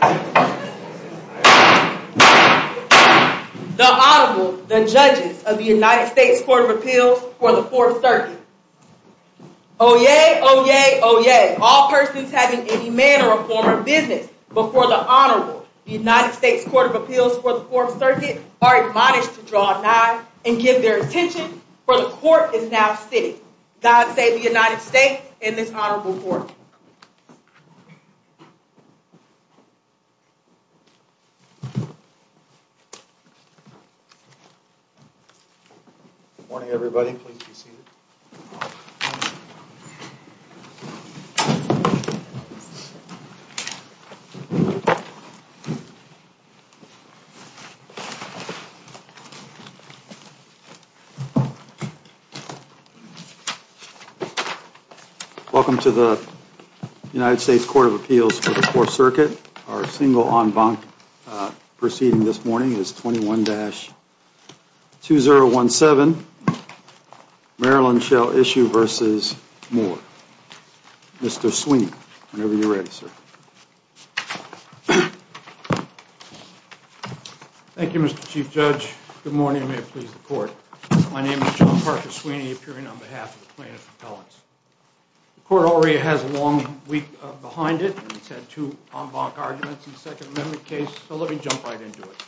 The Honorable, the Judges of the United States Court of Appeals for the Fourth Circuit. Oyez! Oyez! Oyez! All persons having any manner of foreign business before the Honorable, the United States Court of Appeals for the Fourth Circuit, are admonished to draw a line and give their attention, for the Court is now sitting. God save the United States and this Honorable Court. Welcome to the United States Court of Appeals for the Fourth Circuit. Our single en banc proceeding this morning is 21-2017, Maryland Shall Issue v. Moore. Mr. Sweeney, whenever you're ready, sir. Thank you, Mr. Chief Judge. Good morning, and may it please the Court. My name is John Parker Sweeney, appearing on behalf of the plaintiff's appellants. The Court already has a long week behind it, and it's had two en banc arguments in the Second Amendment case, so let me jump right into it.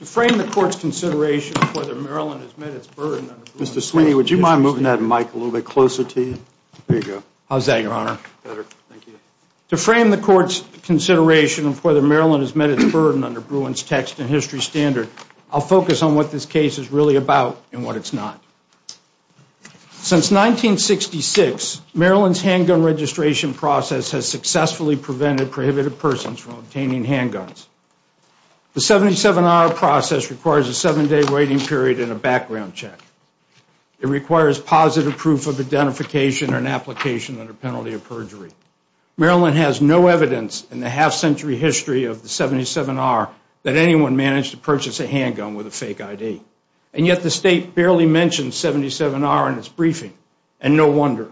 To frame the Court's consideration of whether Maryland has met its burden under Bruin's text and history standard, I'll focus on what this case is really about and what it's not. Since 1966, Maryland's handgun registration process has successfully prevented prohibited persons from obtaining handguns. The 77R process requires a seven-day waiting period and a background check. It requires positive proof of identification and application under penalty of perjury. Maryland has no evidence in the half-century history of the 77R that anyone managed to purchase a handgun with a fake ID, and yet the state barely mentions 77R in its briefing, and no wonder.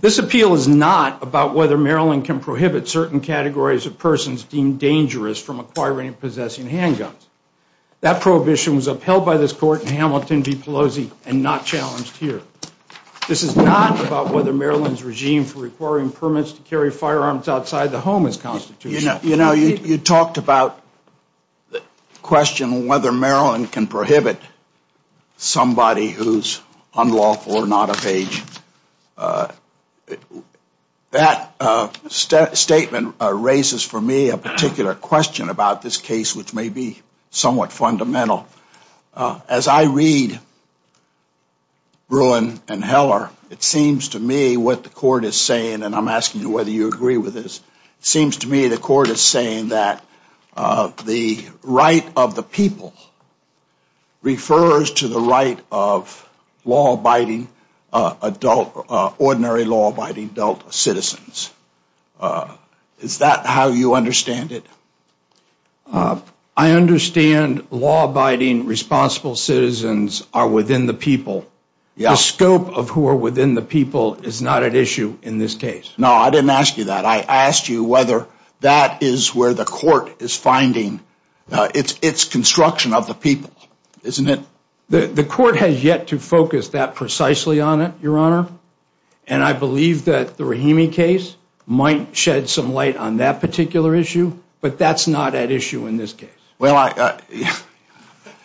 This appeal is not about whether Maryland can prohibit certain categories of persons deemed dangerous from acquiring and possessing handguns. That prohibition was upheld by this Court in Hamilton v. Pelosi and not challenged here. This is not about whether Maryland's regime for requiring permits to carry firearms outside the home is constitutional. You know, you talked about the question whether Maryland can prohibit somebody who's unlawful or not of age. That statement raises for me a particular question about this case which may be somewhat fundamental. Well, as I read Bruin and Heller, it seems to me what the Court is saying, and I'm asking whether you agree with this, seems to me the Court is saying that the right of the people refers to the right of law-abiding adult, ordinary law-abiding adult citizens. Is that how you understand it? I understand law-abiding responsible citizens are within the people. The scope of who are within the people is not at issue in this case. No, I didn't ask you that. I asked you whether that is where the Court is finding its construction of the people. The Court has yet to focus that precisely on it, Your Honor, and I believe that the Rahimi case might shed some light on that particular issue, but that's not at issue in this case. Well,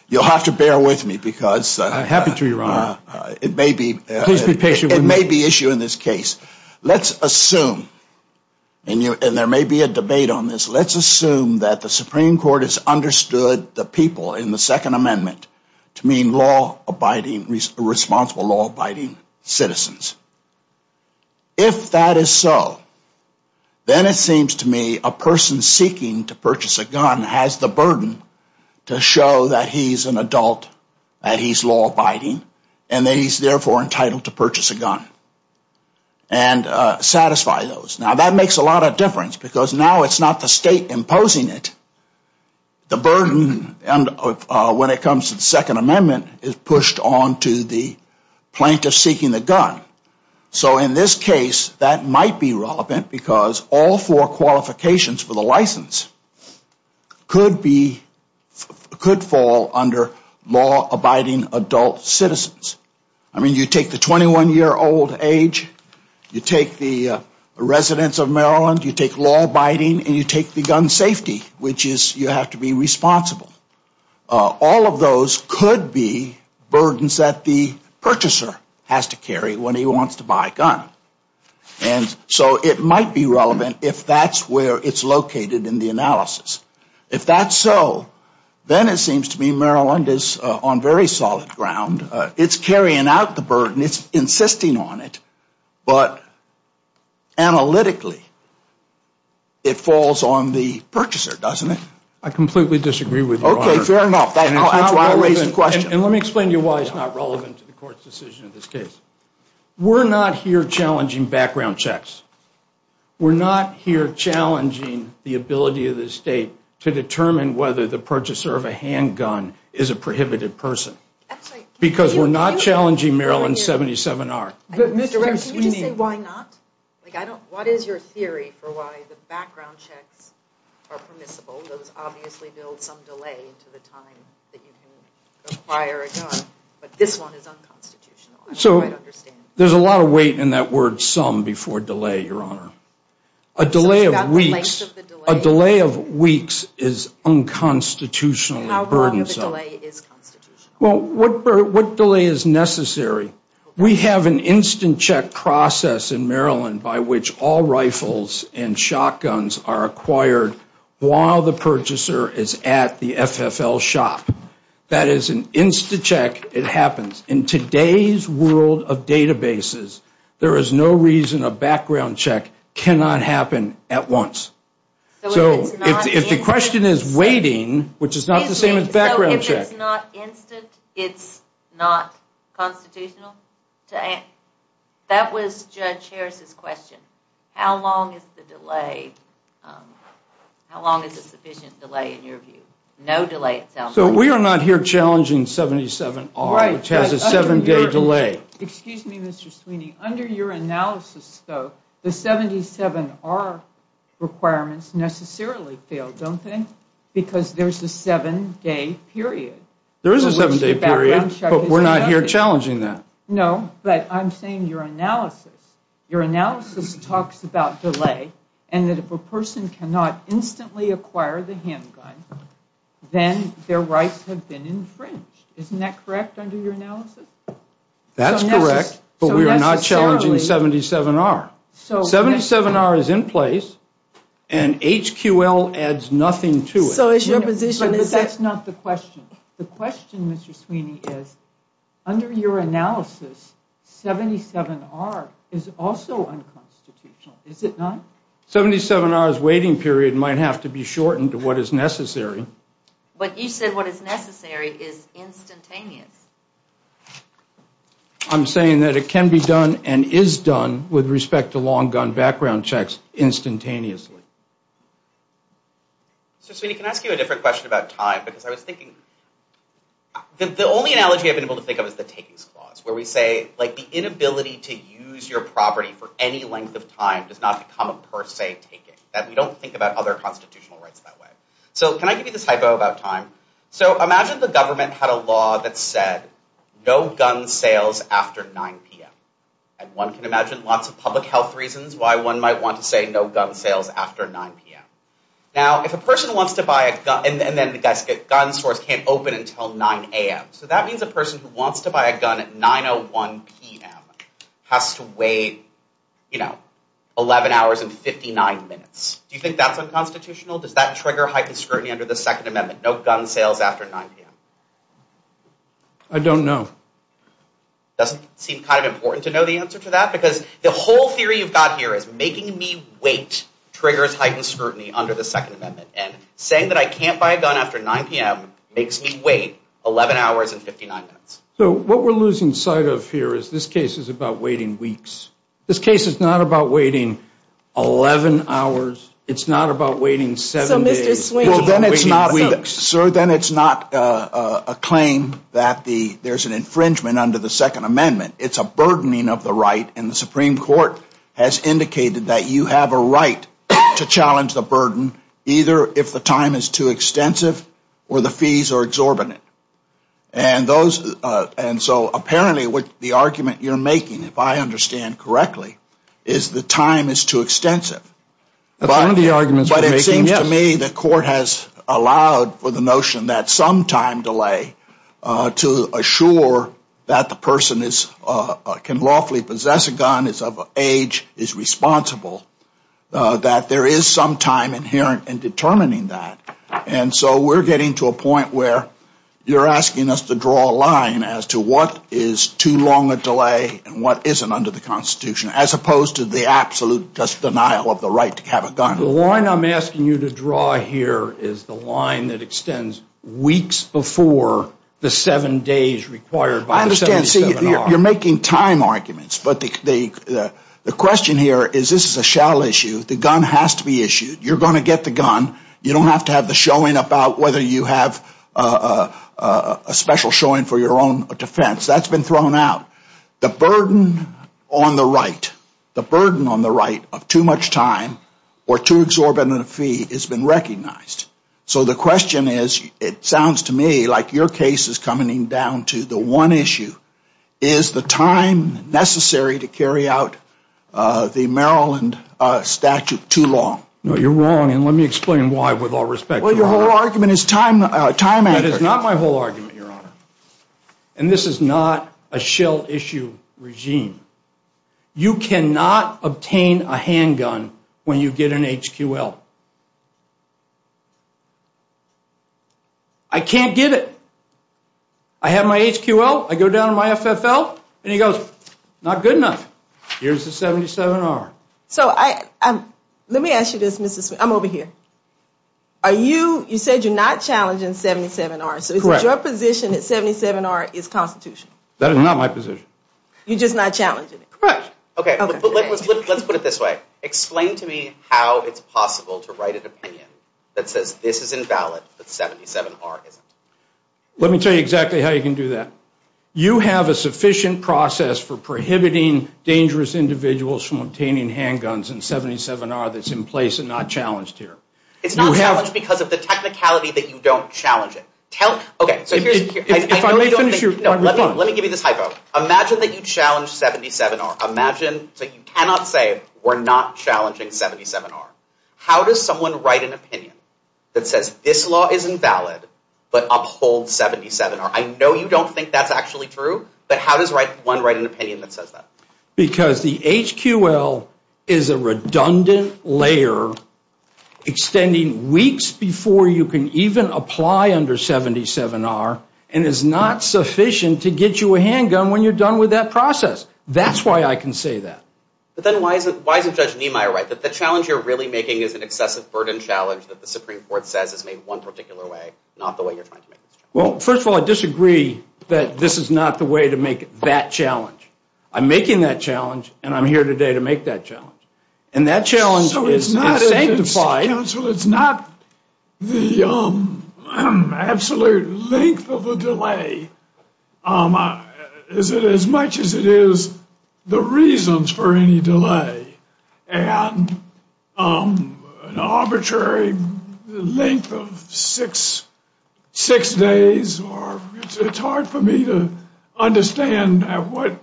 you'll have to bear with me because it may be issue in this case. Let's assume, and there may be a debate on this, let's assume that the Supreme Court has understood the people in the Second Amendment to mean law-abiding, responsible law-abiding citizens. If that is so, then it seems to me a person seeking to purchase a gun has the burden to show that he's an adult, that he's law-abiding, and that he's therefore entitled to purchase a gun and satisfy those. Now, that makes a lot of difference because now it's not the state imposing it. The burden when it comes to the Second Amendment is pushed on to the plaintiff seeking the gun. So in this case, that might be relevant because all four qualifications for the license could fall under law-abiding adult citizens. I mean, you take the 21-year-old age, you take the residence of Maryland, you take law-abiding, and you take the gun safety, which is you have to be responsible. All of those could be burdens that the purchaser has to carry when he wants to buy a gun, and so it might be relevant if that's where it's located in the analysis. If that's so, then it seems to me Maryland is on very solid ground. It's carrying out the burden, it's insisting on it, but analytically it falls on the purchaser, doesn't it? I completely disagree with you, Your Honor. Okay, fair enough. And let me explain to you why it's not relevant to the court's decision in this case. We're not here challenging background checks. We're not here challenging the ability of the state to determine whether the purchaser of a handgun is a prohibited person. That's right. Because we're not challenging Maryland's 70-7R. But Mr. Ramsey, can you say why not? What is your theory for why the background checks are permissible? Those obviously build some delay to the time that you can acquire a gun, but this one is unconstitutional. So, there's a lot of weight in that word, some, before delay, Your Honor. A delay of weeks is unconstitutional. How long is the delay? Well, what delay is necessary? We have an instant check process in Maryland by which all rifles and shotguns are acquired while the purchaser is at the FFL shop. That is an instant check. It happens. In today's world of databases, there is no reason a background check cannot happen at once. So, if the question is waiting, which is not the same as background check. So, if it's not instant, it's not constitutional? That was Judge Harris's question. How long is the delay? How long is a sufficient delay in your view? No delay, it sounds like. So, we are not here challenging 77R, which has a 7-day delay. Excuse me, Mr. Sweeney. Under your analysis, though, the 77R requirements necessarily fail, don't they? Because there's a 7-day period. There is a 7-day period, but we're not here challenging that. No, but I'm saying your analysis. That's correct, but we are not challenging 77R. 77R is in place, and HQL adds nothing to it. So, it's your position. But that's not the question. The question, Mr. Sweeney, is under your analysis, 77R is also unconstitutional. Is it not? 77R's waiting period might have to be shortened to what is necessary. But he said what is necessary is instantaneous. I'm saying that it can be done and is done with respect to long-gone background checks instantaneously. So, Sweeney, can I ask you a different question about time? Because I was thinking, the only analogy I've been able to think of is the taking clause, where we say the inability to use your property for any length of time does not become a per se taking. We don't think about other constitutional rights that way. So, can I give you this typo about time? So, imagine the government had a law that said no gun sales after 9 p.m. And one can imagine lots of public health reasons why one might want to say no gun sales after 9 p.m. Now, if a person wants to buy a gun, and then the gun store can't open until 9 a.m., so that means a person who wants to buy a gun at 9 a.m. has to wait 11 hours and 59 minutes. Do you think that's unconstitutional? Does that trigger heightened scrutiny under the Second Amendment, no gun sales after 9 p.m.? I don't know. It doesn't seem kind of important to know the answer to that, because the whole theory you've got here is making me wait triggers heightened scrutiny under the Second Amendment. And saying that I can't buy a gun after 9 p.m. makes me wait 11 hours and 59 minutes. So, what we're losing sight of here is this case is about waiting weeks. This case is not about waiting 11 hours. It's not about waiting 7 days. Sir, then it's not a claim that there's an infringement under the Second Amendment. It's a burdening of the right, and the Supreme Court has indicated that you have a right to challenge the burden either if the time is too extensive or the fees are exorbitant. And so, apparently, the argument you're making, if I understand correctly, is the time is too extensive. But it seems to me the court has allowed for the notion that some time delay to assure that the person can lawfully possess a gun, regardless of age, is responsible, that there is some time inherent in determining that. And so, we're getting to a point where you're asking us to draw a line as to what is too long a delay and what isn't under the Constitution, as opposed to the absolute denial of the right to have a gun. The line I'm asking you to draw here is the line that extends weeks before the 7 days required by the 7-day seminar. You're making time arguments, but the question here is this is a shallow issue. The gun has to be issued. You're going to get the gun. You don't have to have the showing about whether you have a special showing for your own defense. That's been thrown out. The burden on the right, the burden on the right of too much time or too exorbitant a fee has been recognized. So, the question is, it sounds to me like your case is coming down to the one issue. Is the time necessary to carry out the Maryland statute too long? No, you're wrong, and let me explain why, with all respect. Well, your whole argument is time added. Time added is not my whole argument, Your Honor. And this is not a shell issue regime. You cannot obtain a handgun when you get an HQL. I can't get it. I have my HQL. I go down to my FFL, and it goes, not good enough. Here's the 77-R. So, let me ask you this, Mr. Smith. I'm over here. Are you, you said you're not challenging 77-R. Correct. So, it's your position that 77-R is constitutional. That is not my position. You're just not challenging it. Correct. Okay. Let's put it this way. Explain to me how it's possible to write an opinion that says this is invalid, that 77-R is. Let me tell you exactly how you can do that. You have a sufficient process for prohibiting dangerous individuals from obtaining handguns in 77-R that's in place and not challenged here. It's not challenged because of the technicality that you don't challenge it. If I may finish here. Let me give you this hypo. Imagine that you challenge 77-R. Imagine that you cannot say we're not challenging 77-R. How does someone write an opinion that says this law is invalid, but upholds 77-R? I know you don't think that's actually true, but how does one write an opinion that says that? Because the HQL is a redundant layer extending weeks before you can even apply under 77-R and is not sufficient to get you a handgun when you're done with that process. That's why I can say that. But then why does Judge Niemeyer write that? The challenge you're really making is an excessive burden challenge that the Supreme Court says is made one particular way, not the way you're trying to make it. Well, first of all, I disagree that this is not the way to make that challenge. I'm making that challenge, and I'm here today to make that challenge. And that challenge is to satisfy... So it's not the absolute length of the delay. Is it as much as it is the reasons for any delay? And an arbitrary length of six days or... It's hard for me to understand what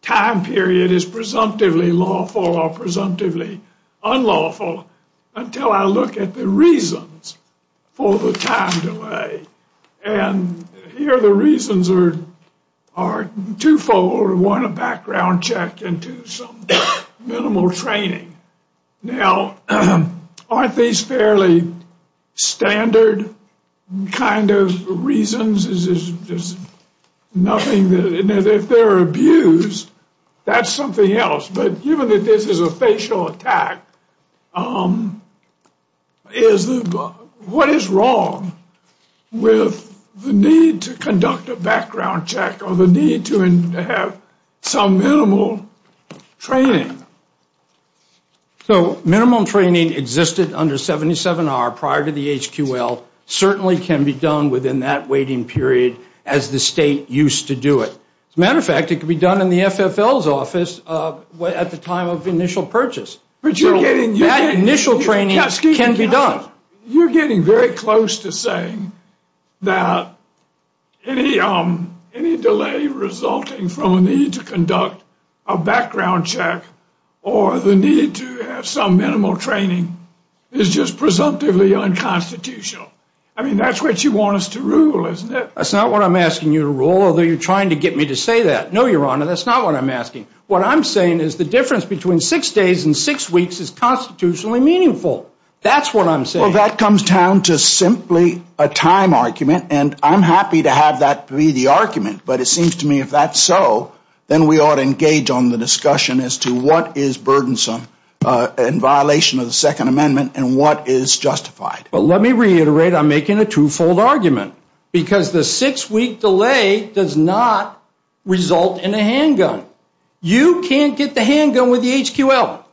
time period is presumptively lawful or presumptively unlawful until I look at the reasons for the time delay. And here the reasons are twofold. One, a background check into some minimal training. Now, aren't these fairly standard kind of reasons? Is this just nothing... And if they're abused, that's something else. But given that this is a facial attack, what is wrong with the need to conduct a background check or the need to have some minimal training? So minimal training existed under 77R prior to the HQL, certainly can be done within that waiting period as the state used to do it. As a matter of fact, it can be done in the FFL's office at the time of initial purchase. That initial training can be done. You're getting very close to saying that any delay resulting from a need to conduct a background check or the need to have some minimal training is just presumptively unconstitutional. I mean, that's what you want us to rule, isn't it? That's not what I'm asking you to rule, although you're trying to get me to say that. No, Your Honor, that's not what I'm asking. What I'm saying is the difference between six days and six weeks is constitutionally meaningful. That's what I'm saying. Well, that comes down to simply a time argument, and I'm happy to have that be the argument. But it seems to me if that's so, then we ought to engage on the discussion as to what is burdensome in violation of the Second Amendment and what is justified. But let me reiterate, I'm making a twofold argument. Because the six-week delay does not result in a handgun. You can't get the handgun with the HQL.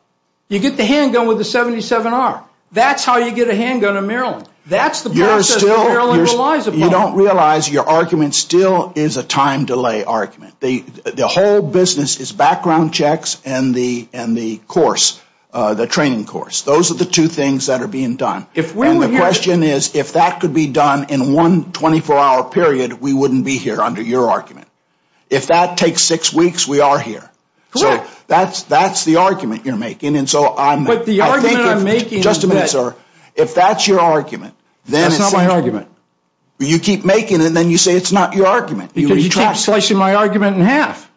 You get the handgun with the 77R. That's how you get a handgun in Maryland. That's the process that Maryland relies upon. You don't realize your argument still is a time delay argument. The whole business is background checks and the course, the training course. Those are the two things that are being done. And the question is if that could be done in one 24-hour period, we wouldn't be here under your argument. If that takes six weeks, we are here. So that's the argument you're making. But the argument I'm making is this. Just a minute, sir. If that's your argument, then it's not my argument. You keep making it, and then you say it's not your argument. Because you cut my argument in half.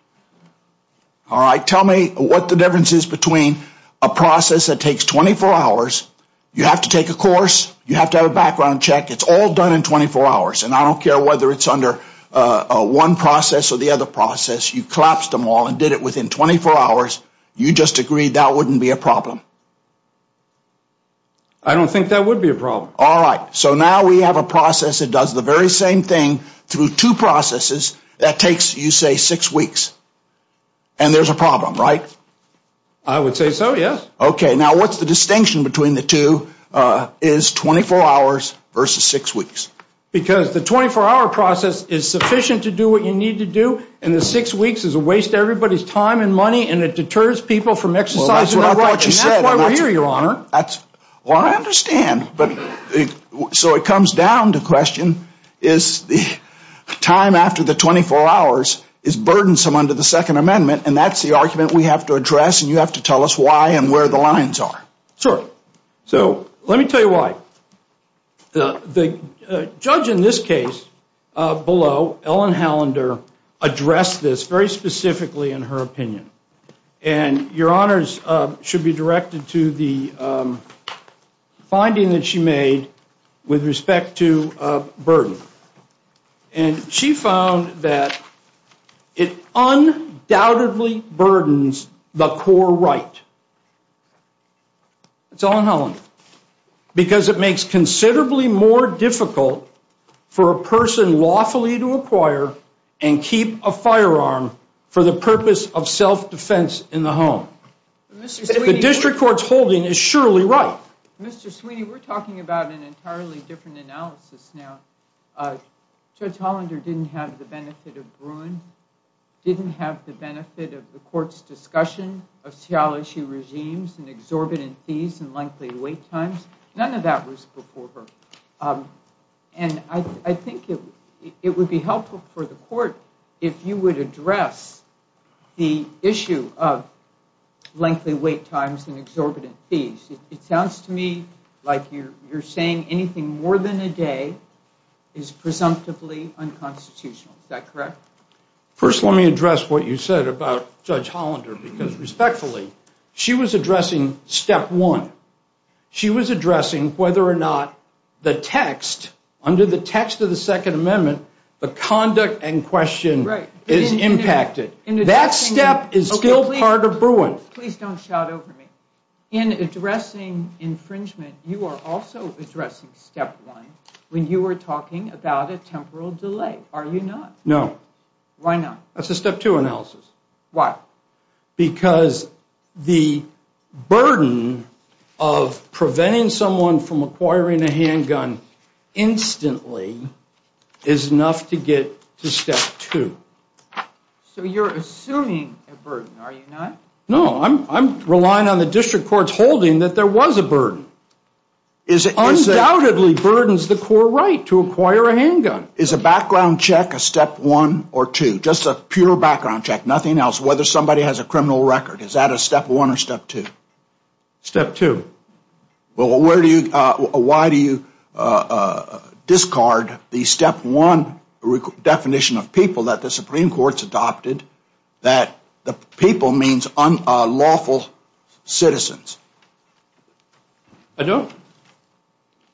All right. Tell me what the difference is between a process that takes 24 hours. You have to take a course. You have to have a background check. It's all done in 24 hours. And I don't care whether it's under one process or the other process. You collapsed them all and did it within 24 hours. You just agreed that wouldn't be a problem. I don't think that would be a problem. All right. So now we have a process that does the very same thing through two processes that takes, you say, six weeks. And there's a problem, right? I would say so, yes. Okay. Now what's the distinction between the two is 24 hours versus six weeks? Because the 24-hour process is sufficient to do what you need to do, and the six weeks is a waste of everybody's time and money, and it deters people from exercising their rights. And that's why we're here, Your Honor. Well, I understand. So it comes down to the question is the time after the 24 hours is burdensome under the Second Amendment, and that's the argument we have to address, and you have to tell us why and where the lines are. Sure. So let me tell you why. The judge in this case below, Ellen Hallander, addressed this very specifically in her opinion, and Your Honors should be directed to the finding that she made with respect to burden. And she found that it undoubtedly burdens the core right. It's Ellen Hallander. Because it makes considerably more difficult for a person lawfully to acquire and keep a firearm for the purpose of self-defense in the home. The district court's holding is surely right. Mr. Sweeney, we're talking about an entirely different analysis now. Judge Hallander didn't have the benefit of Bruin, didn't have the benefit of the court's discussion of Seattle issue regimes and exorbitant fees and lengthy wait times. None of that was before her. And I think it would be helpful for the court if you would address the issue of lengthy wait times and exorbitant fees. It sounds to me like you're saying anything more than a day is presumptively unconstitutional. Is that correct? First, let me address what you said about Judge Hallander, because respectfully, she was addressing step one. She was addressing whether or not the text, under the text of the Second Amendment, the conduct in question is impacted. That step is still part of Bruin. Please don't shout over me. In addressing infringement, you are also addressing step one when you were talking about a temporal delay, are you not? No. Why not? That's a step two analysis. Why? Because the burden of preventing someone from acquiring a handgun instantly is enough to get to step two. So you're assuming a burden, are you not? No. I'm relying on the district court's holding that there was a burden. It undoubtedly burdens the core right to acquire a handgun. Is a background check a step one or two? Just a pure background check, nothing else, whether somebody has a criminal record. Is that a step one or step two? Step two. Well, why do you discard the step one definition of people that the Supreme Court's adopted, that the people means lawful citizens? I don't.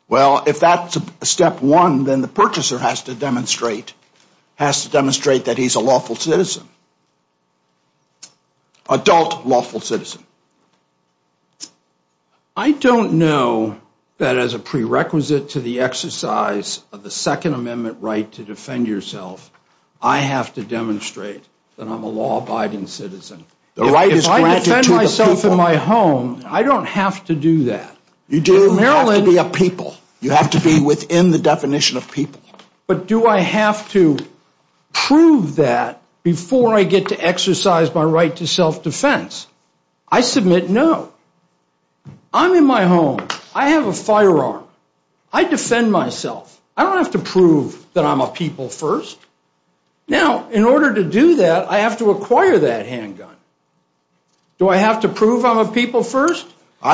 Well, if that's step one, then the purchaser has to demonstrate that he's a lawful citizen, adult lawful citizen. I don't know that as a prerequisite to the exercise of the Second Amendment right to defend yourself, I have to demonstrate that I'm a law-abiding citizen. If I defend myself in my home, I don't have to do that. You do. In Maryland, we have people. You have to be within the definition of people. But do I have to prove that before I get to exercise my right to self-defense? I submit no. I'm in my home. I have a firearm. I defend myself. I don't have to prove that I'm a people first. Now, in order to do that, I have to acquire that handgun. Do I have to prove I'm a people first?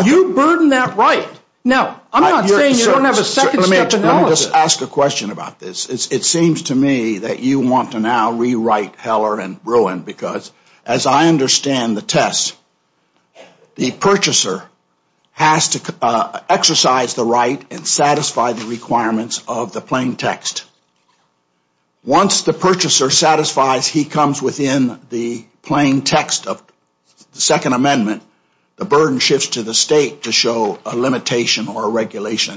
You burden that right. Now, I'm not saying you don't have a second step to knowledge. Let me just ask a question about this. It seems to me that you want to now rewrite Heller and Bruin because, as I understand the test, the purchaser has to exercise the right and satisfy the requirements of the plain text. Once the purchaser satisfies he comes within the plain text of the Second Amendment, the burden shifts to the state to show a limitation or a regulation.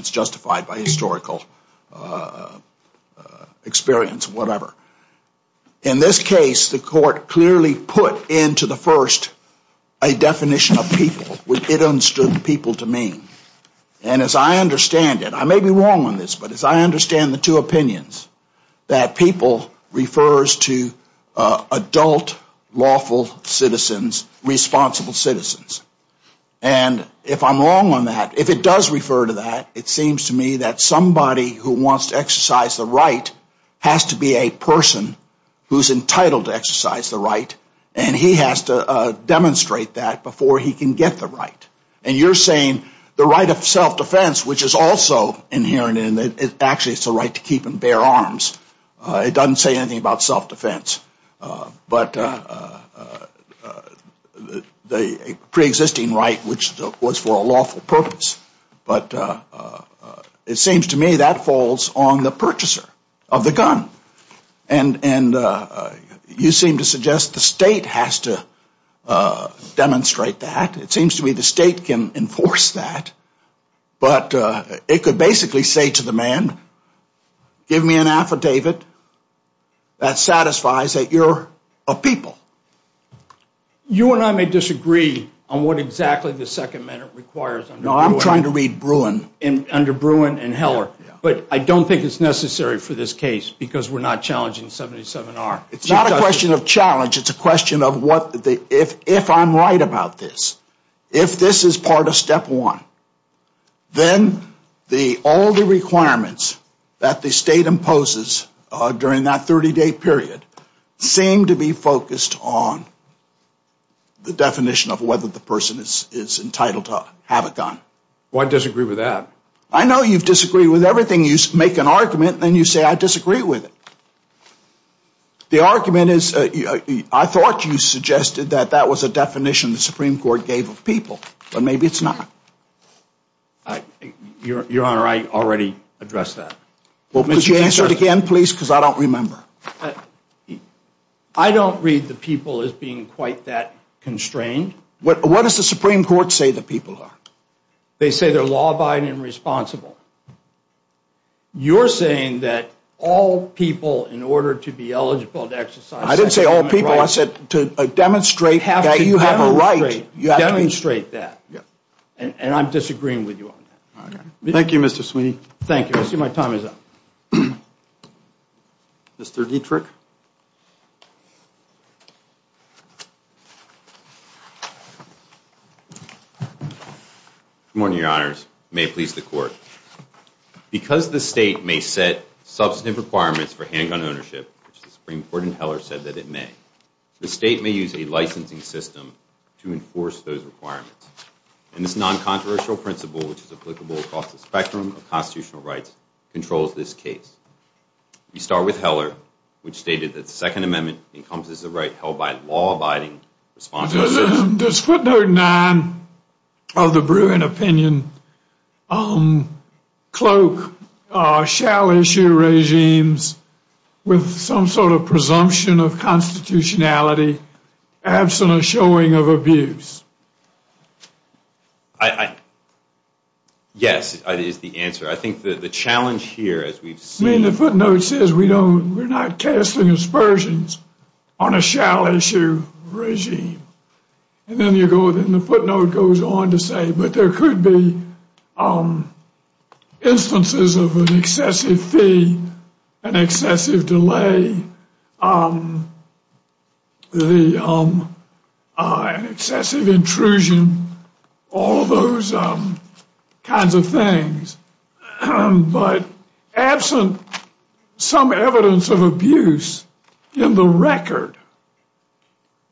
In this case, the court clearly put into the first a definition of people, which it understood people to mean. And as I understand it, I may be wrong on this, but as I understand the two opinions, that people refers to adult lawful citizens, responsible citizens. And if I'm wrong on that, if it does refer to that, it seems to me that somebody who wants to exercise the right has to be a person who's entitled to exercise the right, and he has to demonstrate that before he can get the right. And you're saying the right of self-defense, which is also inherent in it, actually it's the right to keep and bear arms. It doesn't say anything about self-defense. But the preexisting right, which was for a lawful purpose. But it seems to me that falls on the purchaser of the gun. And you seem to suggest the state has to demonstrate that. It seems to me the state can enforce that. But it could basically say to the man, give me an affidavit that satisfies that you're a people. You and I may disagree on what exactly the second amendment requires. No, I'm trying to read Bruin, under Bruin and Heller. But I don't think it's necessary for this case because we're not challenging 77R. It's not a question of challenge. It's a question of if I'm right about this, if this is part of step one, then all the requirements that the state imposes during that 30-day period seem to be focused on the definition of whether the person is entitled to have a gun. Well, I disagree with that. I know you disagree with everything. You make an argument and then you say, I disagree with it. The argument is, I thought you suggested that that was a definition the Supreme Court gave of people. But maybe it's not. Your Honor, I already addressed that. Could you answer it again, please? Because I don't remember. I don't read the people as being quite that constrained. What does the Supreme Court say the people are? They say they're law-abiding and responsible. You're saying that all people, in order to be eligible to exercise their human rights— I didn't say all people. To demonstrate that you have a right, you have to demonstrate that. And I'm disagreeing with you on that. Thank you, Mr. Sweeney. Thank you. I see my time is up. Mr. Dietrich? Good morning, Your Honors. May it please the Court. Because the state may set substantive requirements for handgun ownership, which the Supreme Court in Heller said that it may, the state may use a licensing system to enforce those requirements. And this non-controversial principle, which is applicable across the spectrum of constitutional rights, controls this case. We start with Heller, which stated that the Second Amendment encompasses a right held by law-abiding, responsible— Does footnote 9 of the Bruin opinion cloak shall-issue regimes with some sort of presumption of constitutionality, absent a showing of abuse? Yes, is the answer. I think the challenge here, as we've seen— And then the footnote goes on to say, but there could be instances of an excessive fee, an excessive delay, an excessive intrusion, all those kinds of things. But absent some evidence of abuse in the record,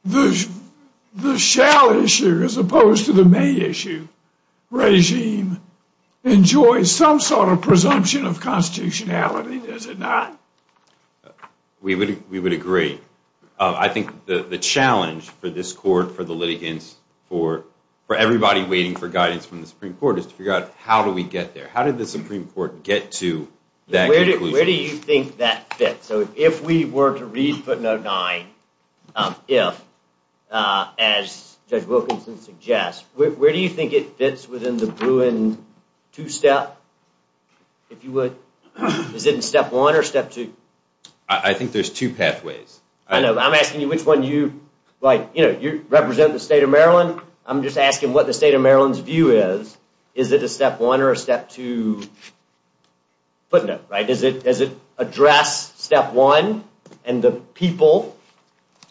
the shall-issue as opposed to the may-issue regime enjoys some sort of presumption of constitutionality, does it not? We would agree. I think the challenge for this Court, for the litigants, for everybody waiting for guidance from the Supreme Court, is to figure out how do we get there? How did the Supreme Court get to that conclusion? Where do you think that fits? If we were to read footnote 9, if, as Judge Wilkinson suggests, where do you think it fits within the Bruin two-step, if you would? Is it in step one or step two? I think there's two pathways. I'm asking you which one you— You represent the state of Maryland. I'm just asking what the state of Maryland's view is. Is it a step one or a step two footnote? Does it address step one and the people,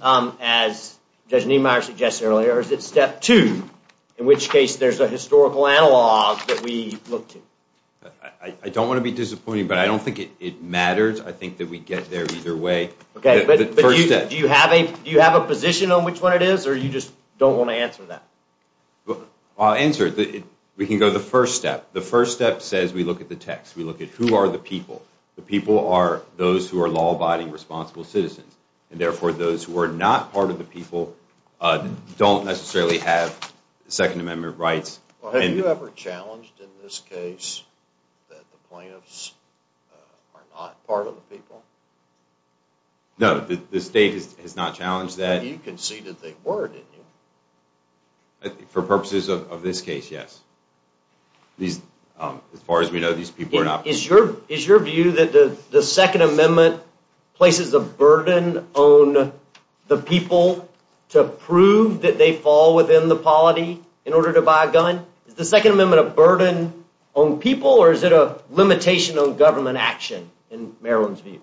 as Judge Niemeyer suggested earlier, or is it step two, in which case there's a historical analog that we look to? I don't want to be disappointing, but I don't think it matters. I think that we get there either way. Do you have a position on which one it is, or you just don't want to answer that? I'll answer it. We can go to the first step. The first step says we look at the text. We look at who are the people. The people are those who are law-abiding, responsible citizens, and therefore those who are not part of the people don't necessarily have Second Amendment rights. Have you ever challenged in this case that the plaintiffs are not part of the people? No, the state has not challenged that. But you conceded they were, didn't you? For purposes of this case, yes. As far as we know, these people are not— Is your view that the Second Amendment places a burden on the people to prove that they fall within the polity in order to buy a gun? Is the Second Amendment a burden on people, or is it a limitation on government action in Maryland's view?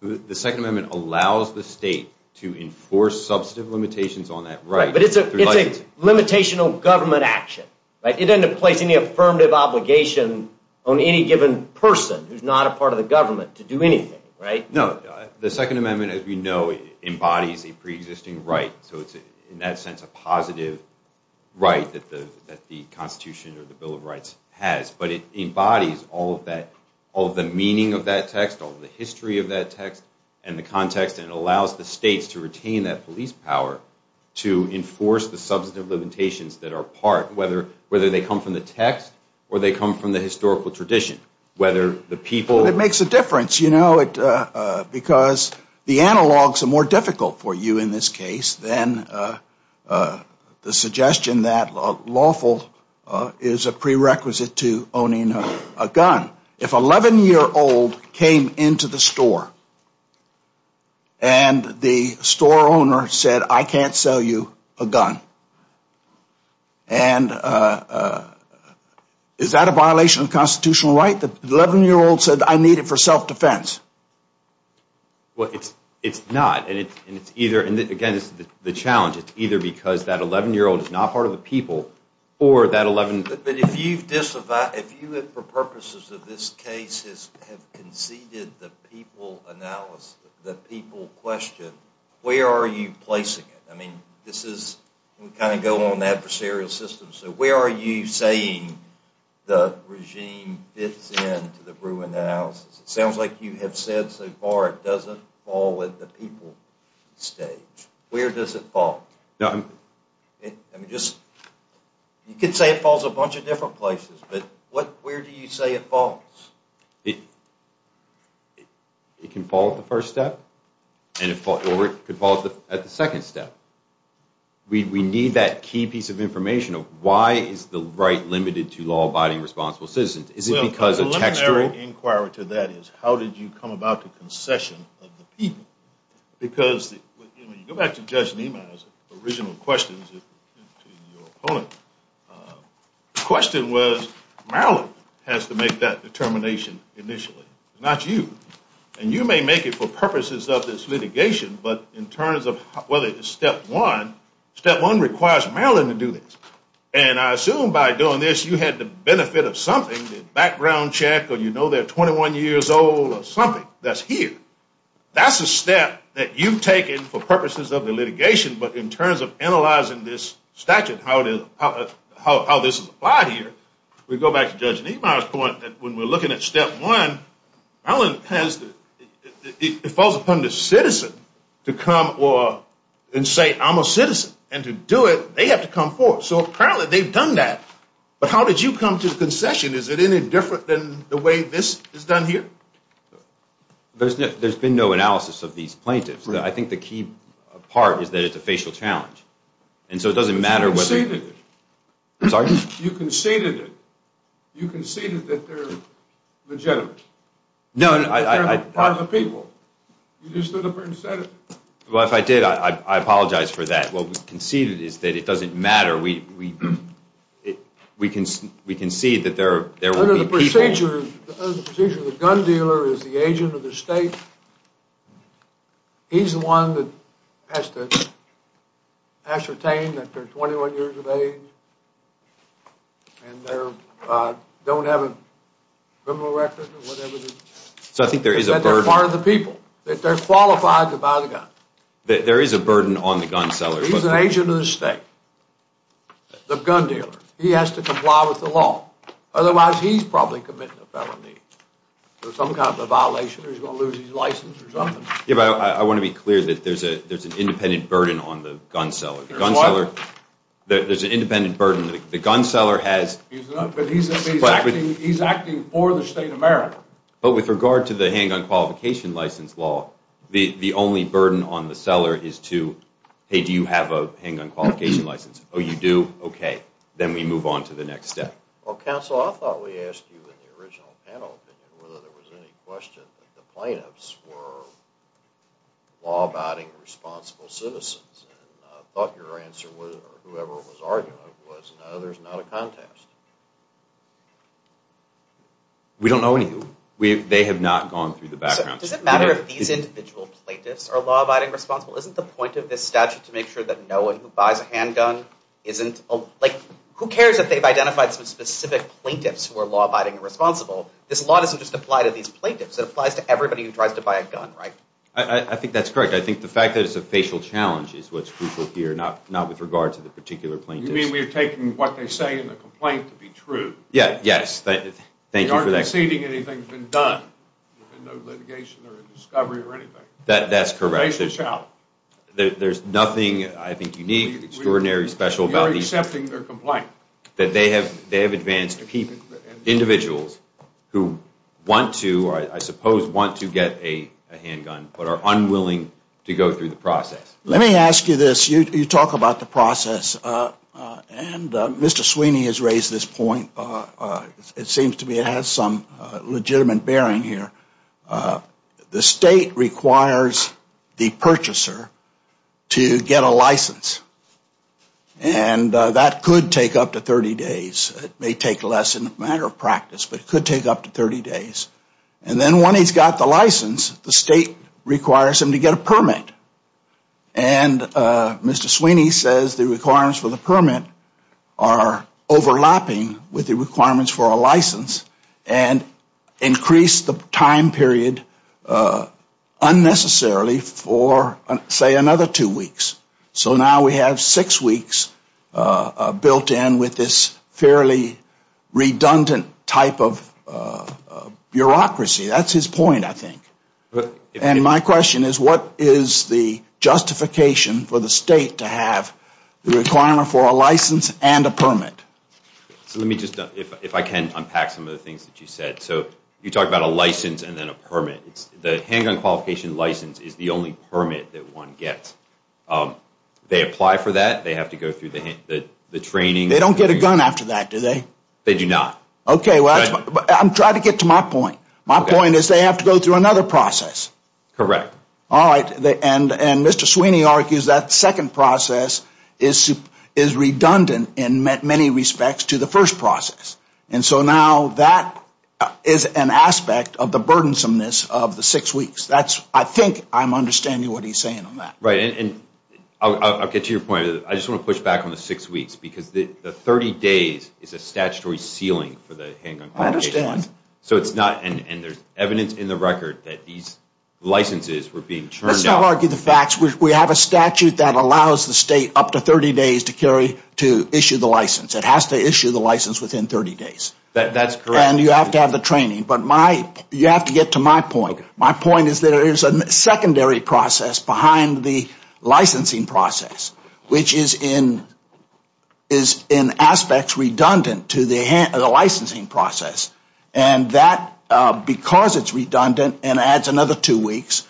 The Second Amendment allows the state to enforce substantive limitations on that right. But it's a limitation on government action. It doesn't place any affirmative obligation on any given person who's not a part of the government to do anything, right? No, the Second Amendment, as we know, embodies a preexisting right. So it's, in that sense, a positive right that the Constitution or the Bill of Rights has. But it embodies all of the meaning of that text, all of the history of that text and the context, and it allows the states to retain that police power to enforce the substantive limitations that are part, whether they come from the text or they come from the historical tradition. Well, it makes a difference, you know, because the analogs are more difficult for you in this case than the suggestion that lawful is a prerequisite to owning a gun. If an 11-year-old came into the store and the store owner said, I can't sell you a gun. And is that a violation of constitutional right? The 11-year-old said, I need it for self-defense. Well, it's not. And again, it's the challenge. It's either because that 11-year-old is not part of the people or that 11-year-old... But if you, for purposes of this case, have conceded the people analysis, the people question, where are you placing it? I mean, this is, we kind of go on the adversarial system. So where are you saying the regime fits in to the Bruin analysis? It sounds like you have said so far it doesn't fall at the people stage. Where does it fall? I mean, just, you could say it falls a bunch of different places, but where do you say it falls? It can fall at the first step, or it could fall at the second step. We need that key piece of information of why is the right limited to law-abiding, responsible citizens. Is it because of textual... Well, the legendary inquiry to that is how did you come about the concession of the people? Because, I mean, go back to Judge Nieman's original questions to your opponent. The question was, Maryland has to make that determination initially, not you. And you may make it for purposes of this litigation, but in terms of whether it's step one, step one requires Maryland to do this. And I assume by doing this you had the benefit of something, the background check, or you know they're 21 years old, or something that's here. That's a step that you've taken for purposes of the litigation, but in terms of analyzing this statute, how this is applied here, we go back to Judge Nieman's point that when we're looking at step one, Maryland has to, it falls upon the citizen to come and say, I'm a citizen. And to do it, they have to come forward. So apparently they've done that. But how did you come to the concession? Is it any different than the way this is done here? There's been no analysis of these plaintiffs. I think the key part is that it's a facial challenge. And so it doesn't matter what they do. You conceded it. I'm sorry? You conceded it. You conceded that they're legitimate. No. They're positive people. You just stood up and said it. Well, if I did, I apologize for that. What we conceded is that it doesn't matter. We conceded that there were people. Under the procedure, the gun dealer is the agent of the state. He's the one that has to ascertain that they're 21 years of age and don't have a criminal record or whatever it is. So I think there is a burden. That they're part of the people, that they're qualified to buy the gun. There is a burden on the gun seller. He's an agent of the state, the gun dealer. He has to comply with the law. Otherwise, he's probably committing a felony. There's some kind of violation or he's going to lose his license or something. Yeah, but I want to be clear that there's an independent burden on the gun seller. There's what? There's an independent burden. The gun seller has... But he's acting for the state of America. But with regard to the hanging on qualification license law, the only burden on the seller is to, hey, do you have a hanging on qualification license? Oh, you do? Okay. Then we move on to the next step. Well, counsel, I thought we asked you in the original panel whether there was any question that the plaintiffs were law-abiding responsible citizens. And I thought your answer was, or whoever was arguing it, was no, there's not a contest. We don't know any of them. They have not gone through the background check. Is it a matter of these individuals plaintiffs are law-abiding responsible? Isn't the point of this statute to make sure that no one who buys a handgun isn't... Like, who cares if they've identified some specific plaintiffs who are law-abiding responsible? This law doesn't just apply to these plaintiffs. It applies to everybody who tries to buy a gun, right? I think that's correct. I think the fact that it's a facial challenge is what's crucial here, not with regard to the particular plaintiff. You mean we've taken what they say in the complaint to be true? Yes. Thank you for that. They aren't exceeding anything that's been done. No litigation or discovery or anything. That's correct. There's nothing, I think, unique, extraordinary, special about these... Accepting their complaint. ...that they have advanced to keep individuals who want to, or I suppose want to get a handgun, but are unwilling to go through the process. Let me ask you this. You talk about the process, and Mr. Sweeney has raised this point. It seems to me it has some legitimate bearing here. The state requires the purchaser to get a license, and that could take up to 30 days. It may take less in a matter of practice, but it could take up to 30 days. And then when he's got the license, the state requires him to get a permit, and Mr. Sweeney says the requirements for the permit are overlapping with the requirements for a license and increase the time period unnecessarily for, say, another two weeks. So now we have six weeks built in with this fairly redundant type of bureaucracy. That's his point, I think. And my question is, what is the justification for the state to have the requirement for a license and a permit? Let me just, if I can, unpack some of the things that you said. So you talk about a license and then a permit. The handgun qualification license is the only permit that one gets. They apply for that. They have to go through the training. They don't get a gun after that, do they? They do not. Okay. I'm trying to get to my point. My point is they have to go through another process. Correct. All right. And Mr. Sweeney argues that second process is redundant in many respects to the first process. And so now that is an aspect of the burdensomeness of the six weeks. That's, I think, I'm understanding what he's saying on that. Right. And I'll get to your point. I just want to push back on the six weeks because the 30 days is a statutory ceiling for the handgun qualification. I understand. So it's not, and there's evidence in the record that these licenses were being turned down. Let's not argue the facts. We have a statute that allows the state up to 30 days to carry, to issue the license. It has to issue the license within 30 days. That's correct. And you have to have the training. But my, you have to get to my point. My point is there is a secondary process behind the licensing process, which is in aspects redundant to the licensing process. And that, because it's redundant and adds another two weeks,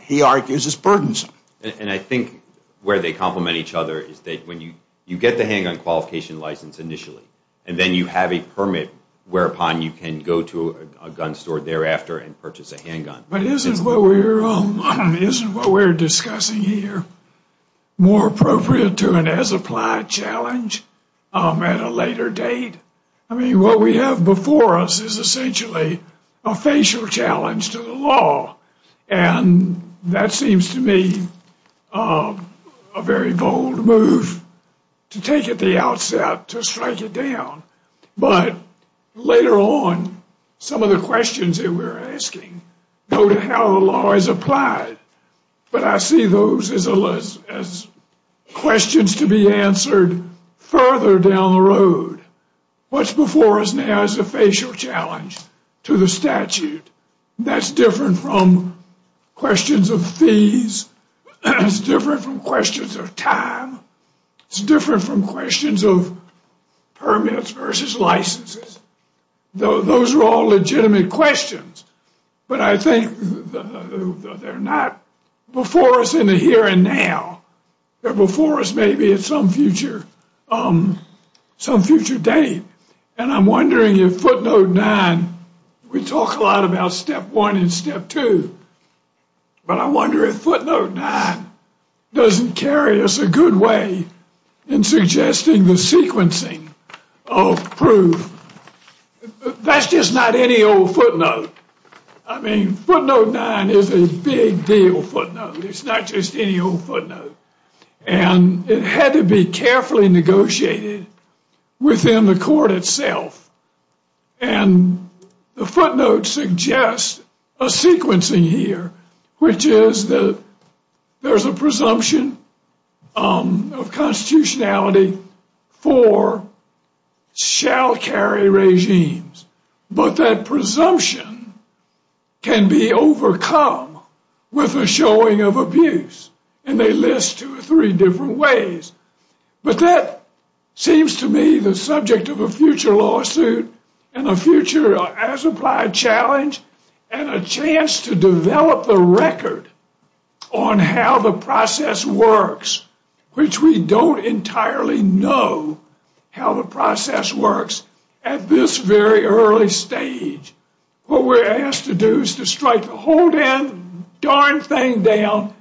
he argues is burdensome. And I think where they complement each other is that when you get the handgun qualification license initially and then you have a permit whereupon you can go to a gun store thereafter and purchase a handgun. But isn't what we're discussing here more appropriate to an as-applied challenge at a later date? I mean, what we have before us is essentially a facial challenge to the law. And that seems to me a very bold move to take at the outset to strike it down. But later on, some of the questions that we're asking go to how the law is applied. But I see those as questions to be answered further down the road. What's before us now is a facial challenge to the statute. That's different from questions of fees. It's different from questions of time. It's different from questions of permits versus licenses. Those are all legitimate questions. But I think they're not before us in the here and now. They're before us maybe at some future date. And I'm wondering if footnote 9, we talk a lot about step 1 and step 2. But I wonder if footnote 9 doesn't carry us a good way in suggesting the sequencing of proof. That's just not any old footnote. I mean, footnote 9 is a big deal footnote. It's not just any old footnote. It had to be carefully negotiated within the court itself. And the footnote suggests a sequencing here, which is that there's a presumption of constitutionality for shall carry regimes. But that presumption can be overcome with a showing of abuse. And they list two or three different ways. But that seems to me the subject of a future lawsuit and a future as-applied challenge and a chance to develop a record on how the process works, which we don't entirely know how the process works at this very early stage. What we're asked to do is to strike a whole darn thing down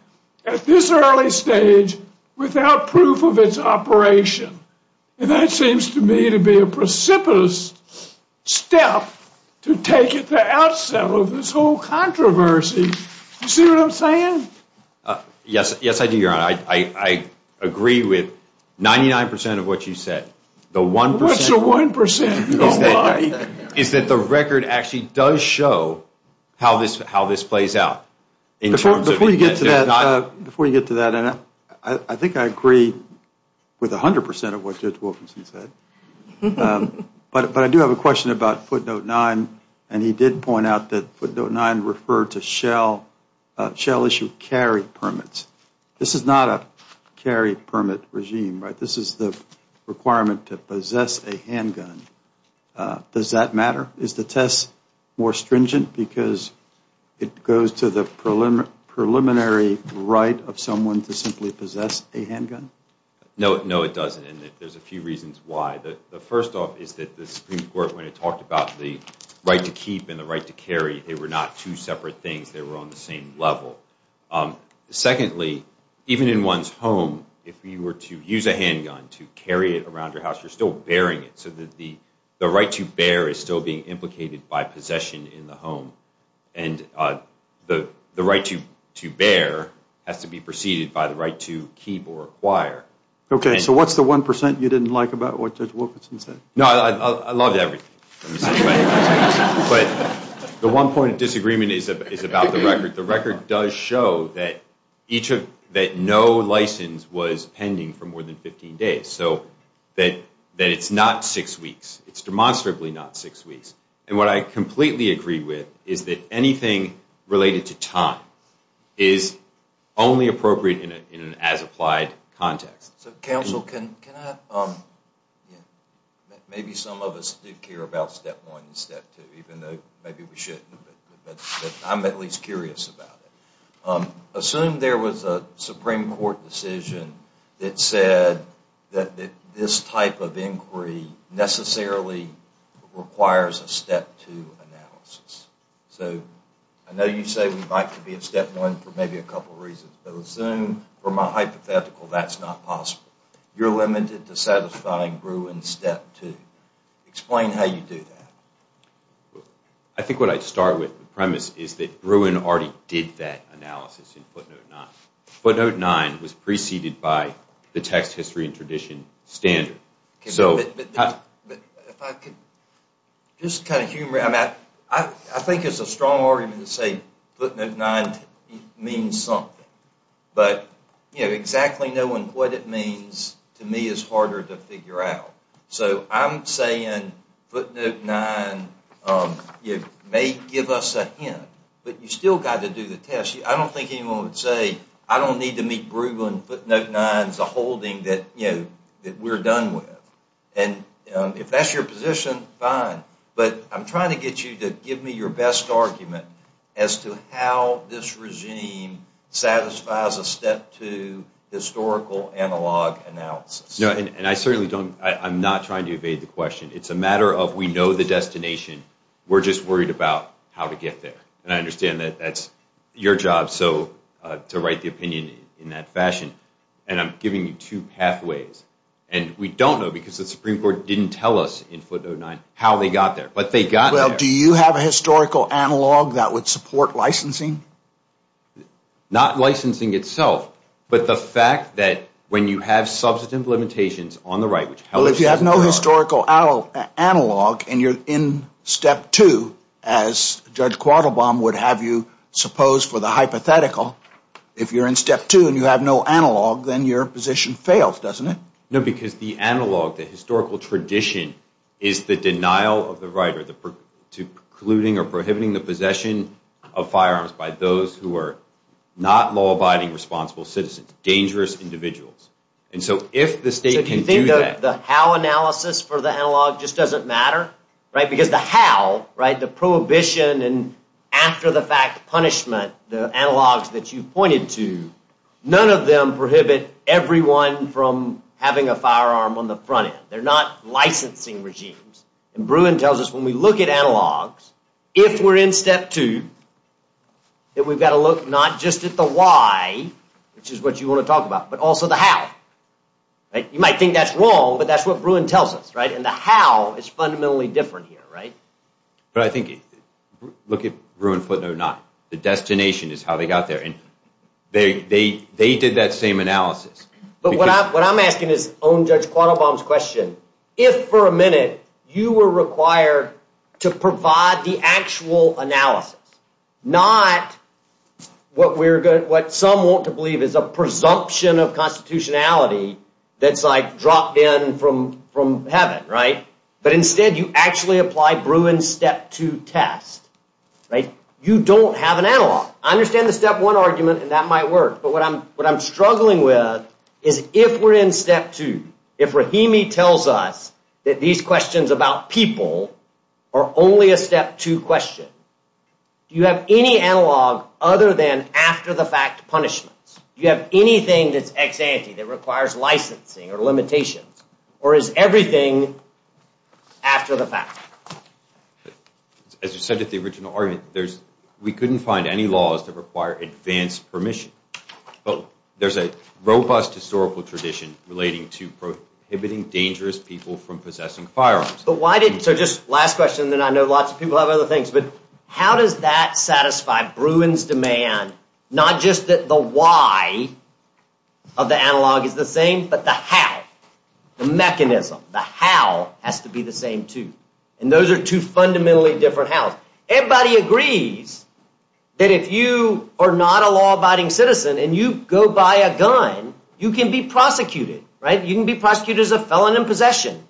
at this early stage without proof of its operation. And that seems to me to be a precipitous step to take at the outset of this whole controversy. You see what I'm saying? Yes, I do, Your Honor. I agree with 99% of what you said. What's the 1%? If the record actually does show how this plays out. Before you get to that, I think I agree with 100% of what Judge Wilkinson said. But I do have a question about footnote 9. And he did point out that footnote 9 referred to shall issue carry permits. This is not a carry permit regime, right? This is the requirement to possess a handgun. Does that matter? Is the test more stringent because it goes to the preliminary right of someone to simply possess a handgun? No, it doesn't. And there's a few reasons why. The first off is that the Supreme Court, when it talked about the right to keep and the right to carry, they were not two separate things. They were on the same level. Secondly, even in one's home, if you were to use a handgun to carry it around your house, you're still bearing it. So the right to bear is still being implicated by possession in the home. And the right to bear has to be preceded by the right to keep or acquire. Okay, so what's the 1% you didn't like about what Judge Wilkinson said? No, I loved everything. But the one point of disagreement is about the record. The record does show that no license was pending for more than 15 days, so that it's not six weeks. It's demonstrably not six weeks. And what I completely agree with is that anything related to time is only appropriate in an as-applied context. Counsel, can I? Maybe some of us did care about step one and step two, even though maybe we shouldn't. I'm at least curious about it. Assume there was a Supreme Court decision that said that this type of inquiry necessarily requires a step two analysis. So I know you say we might be in step one for maybe a couple reasons, but assume, from a hypothetical, that's not possible. You're limited to satisfying Brew in step two. Explain how you do that. I think what I'd start with, the premise, is that Brewin already did that analysis in footnote nine. Footnote nine was preceded by the text, history, and tradition standard. Just kind of humor, I think it's a strong argument to say footnote nine means something. But exactly knowing what it means, to me, is harder to figure out. So I'm saying footnote nine may give us a hint, but you've still got to do the test. I don't think anyone would say, I don't need to meet Brew in footnote nine. It's a holding that we're done with. And if that's your position, fine. But I'm trying to get you to give me your best argument as to how this regime satisfies a step two historical analog analysis. I'm not trying to evade the question. It's a matter of we know the destination, we're just worried about how to get there. And I understand that that's your job to write the opinion in that fashion. And I'm giving you two pathways. And we don't know, because the Supreme Court didn't tell us in footnote nine how they got there. Do you have a historical analog that would support licensing? Not licensing itself, but the fact that when you have substantive limitations on the right, Well, if you have no historical analog and you're in step two, as Judge Quattlebaum would have you suppose for the hypothetical, if you're in step two and you have no analog, then your position fails, doesn't it? No, because the analog, the historical tradition, is the denial of the right, to precluding or prohibiting the possession of firearms by those who are not law-abiding responsible citizens, dangerous individuals. And so if the state can do that. Do you think the how analysis for the analog just doesn't matter? Because the how, the prohibition and after the fact punishment, the analogs that you pointed to, none of them prohibit everyone from having a firearm on the front end. They're not licensing regimes. And Bruin tells us when we look at analogs, if we're in step two, that we've got to look not just at the why, which is what you want to talk about, but also the how. You might think that's wrong, but that's what Bruin tells us, right? And the how is fundamentally different here, right? But I think, look at Bruin footnote nine. The destination is how they got there and they did that same analysis. But what I'm asking is own Judge Quattlebaum's question. If for a minute you were required to provide the actual analysis, not what some want to believe is a presumption of constitutionality that's like dropped in from heaven, right? But instead you actually apply Bruin's step two test, right? You don't have an analog. I understand the step one argument and that might work. But what I'm struggling with is if we're in step two, if Rahimi tells us that these questions about people are only a step two question, do you have any analog other than after the fact punishments? Do you have anything that's ex ante, that requires licensing or limitations? Or is everything after the fact? As you said at the original argument, we couldn't find any laws that require advanced permission. But there's a robust historical tradition relating to prohibiting dangerous people from possessing firearms. So just last question and then I know lots of people have other things. But how does that satisfy Bruin's demand, not just that the why of the analog is the same, but the how, the mechanism, the how has to be the same too. And those are two fundamentally different hows. Everybody agrees that if you are not a law-abiding citizen and you go buy a gun, you can be prosecuted, right? You can be prosecuted as a felon in possession.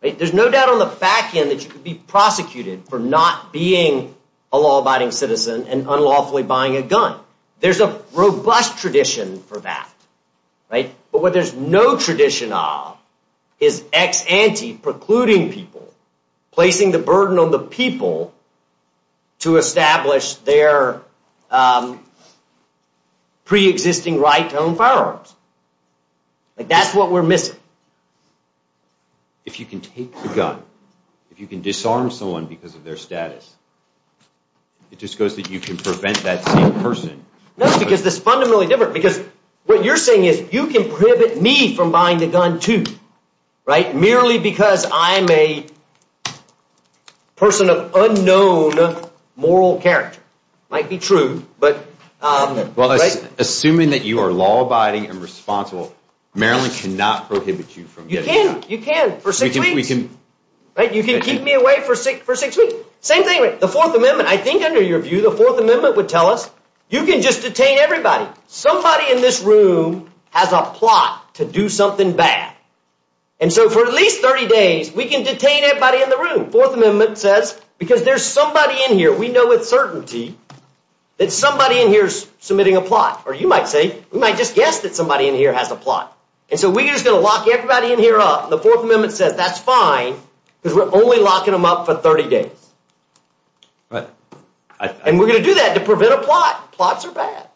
There's no doubt on the back end that you could be prosecuted for not being a law-abiding citizen and unlawfully buying a gun. There's a robust tradition for that, right? But what there's no tradition of is ex ante precluding people, placing the burden on the people to establish their pre-existing right to own firearms. That's what we're missing. If you can take the gun, if you can disarm someone because of their status, it just goes that you can prevent that person. No, because it's fundamentally different. Because what you're saying is you can prohibit me from buying a gun too, right? Merely because I'm a person of unknown moral character. It might be true. Assuming that you are law-abiding and responsible, Maryland cannot prohibit you from getting a gun. You can, you can for six weeks. You can keep me away for six weeks. Same thing with the Fourth Amendment. I think under your view the Fourth Amendment would tell us you can just detain everybody. Now, somebody in this room has a plot to do something bad. And so for at least 30 days we can detain everybody in the room. Fourth Amendment says because there's somebody in here, we know with certainty that somebody in here is submitting a plot. Or you might say, we might just guess that somebody in here has a plot. And so we're just going to lock everybody in here up. The Fourth Amendment says that's fine because we're only locking them up for 30 days. And we're going to do that to prevent a plot. Plots are bad.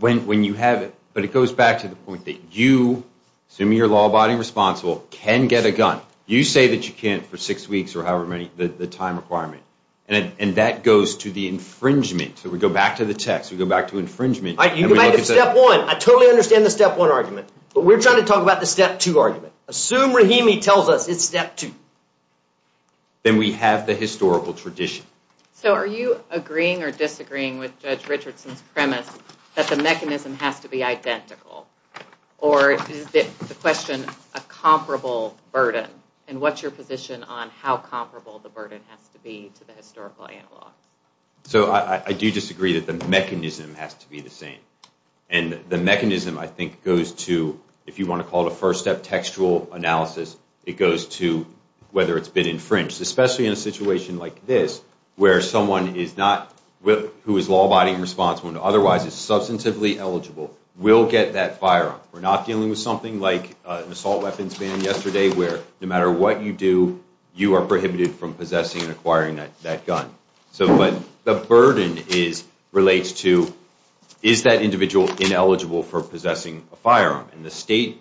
When you have it. But it goes back to the point that you, assuming you're law-abiding and responsible, can get a gun. You say that you can't for six weeks or however many, the time requirement. And that goes to the infringement. So we go back to the text. We go back to infringement. You go back to Step 1. I totally understand the Step 1 argument. But we're trying to talk about the Step 2 argument. Assume Rahimi tells us it's Step 2. Then we have the historical tradition. So are you agreeing or disagreeing with Judge Richardson's premise that the mechanism has to be identical? Or is the question a comparable burden? And what's your position on how comparable the burden has to be to the historical analog? So I do disagree that the mechanism has to be the same. And the mechanism, I think, goes to, if you want to call it a first-step textual analysis, it goes to whether it's been infringed. Especially in a situation like this where someone who is law-abiding and responsible and otherwise is substantively eligible will get that firearm. We're not dealing with something like an assault weapon scene yesterday where no matter what you do, you are prohibited from possessing and acquiring that gun. So the burden relates to, is that individual ineligible for possessing a firearm? And the state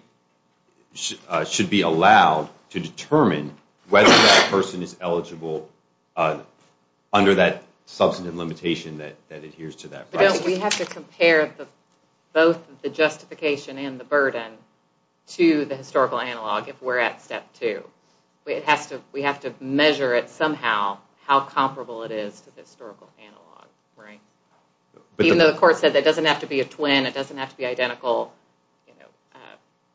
should be allowed to determine whether that person is eligible under that substantive limitation that adheres to that. But don't we have to compare both the justification and the burden to the historical analog if we're at Step 2? We have to measure it somehow, how comparable it is to the historical analog. Even though the court said it doesn't have to be a twin, it doesn't have to be identical,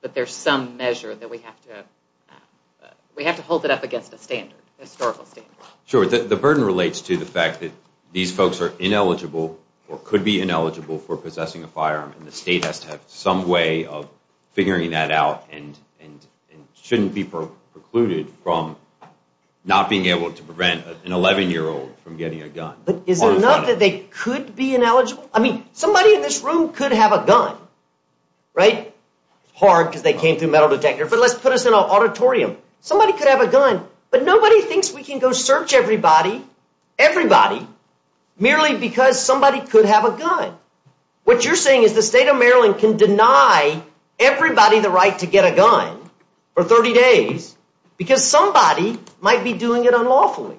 but there's some measure that we have to hold it up against the standard. Sure, the burden relates to the fact that these folks are ineligible or could be ineligible for possessing a firearm, and the state has to have some way of figuring that out and shouldn't be precluded from not being able to prevent an 11-year-old from getting a gun. Is it not that they could be ineligible? I mean, somebody in this room could have a gun, right? It's hard because they can't do metal detectors, but let's put us in an auditorium. Somebody could have a gun, but nobody thinks we can go search everybody, everybody, merely because somebody could have a gun. What you're saying is the state of Maryland can deny everybody the right to get a gun for 30 days because somebody might be doing it unlawfully.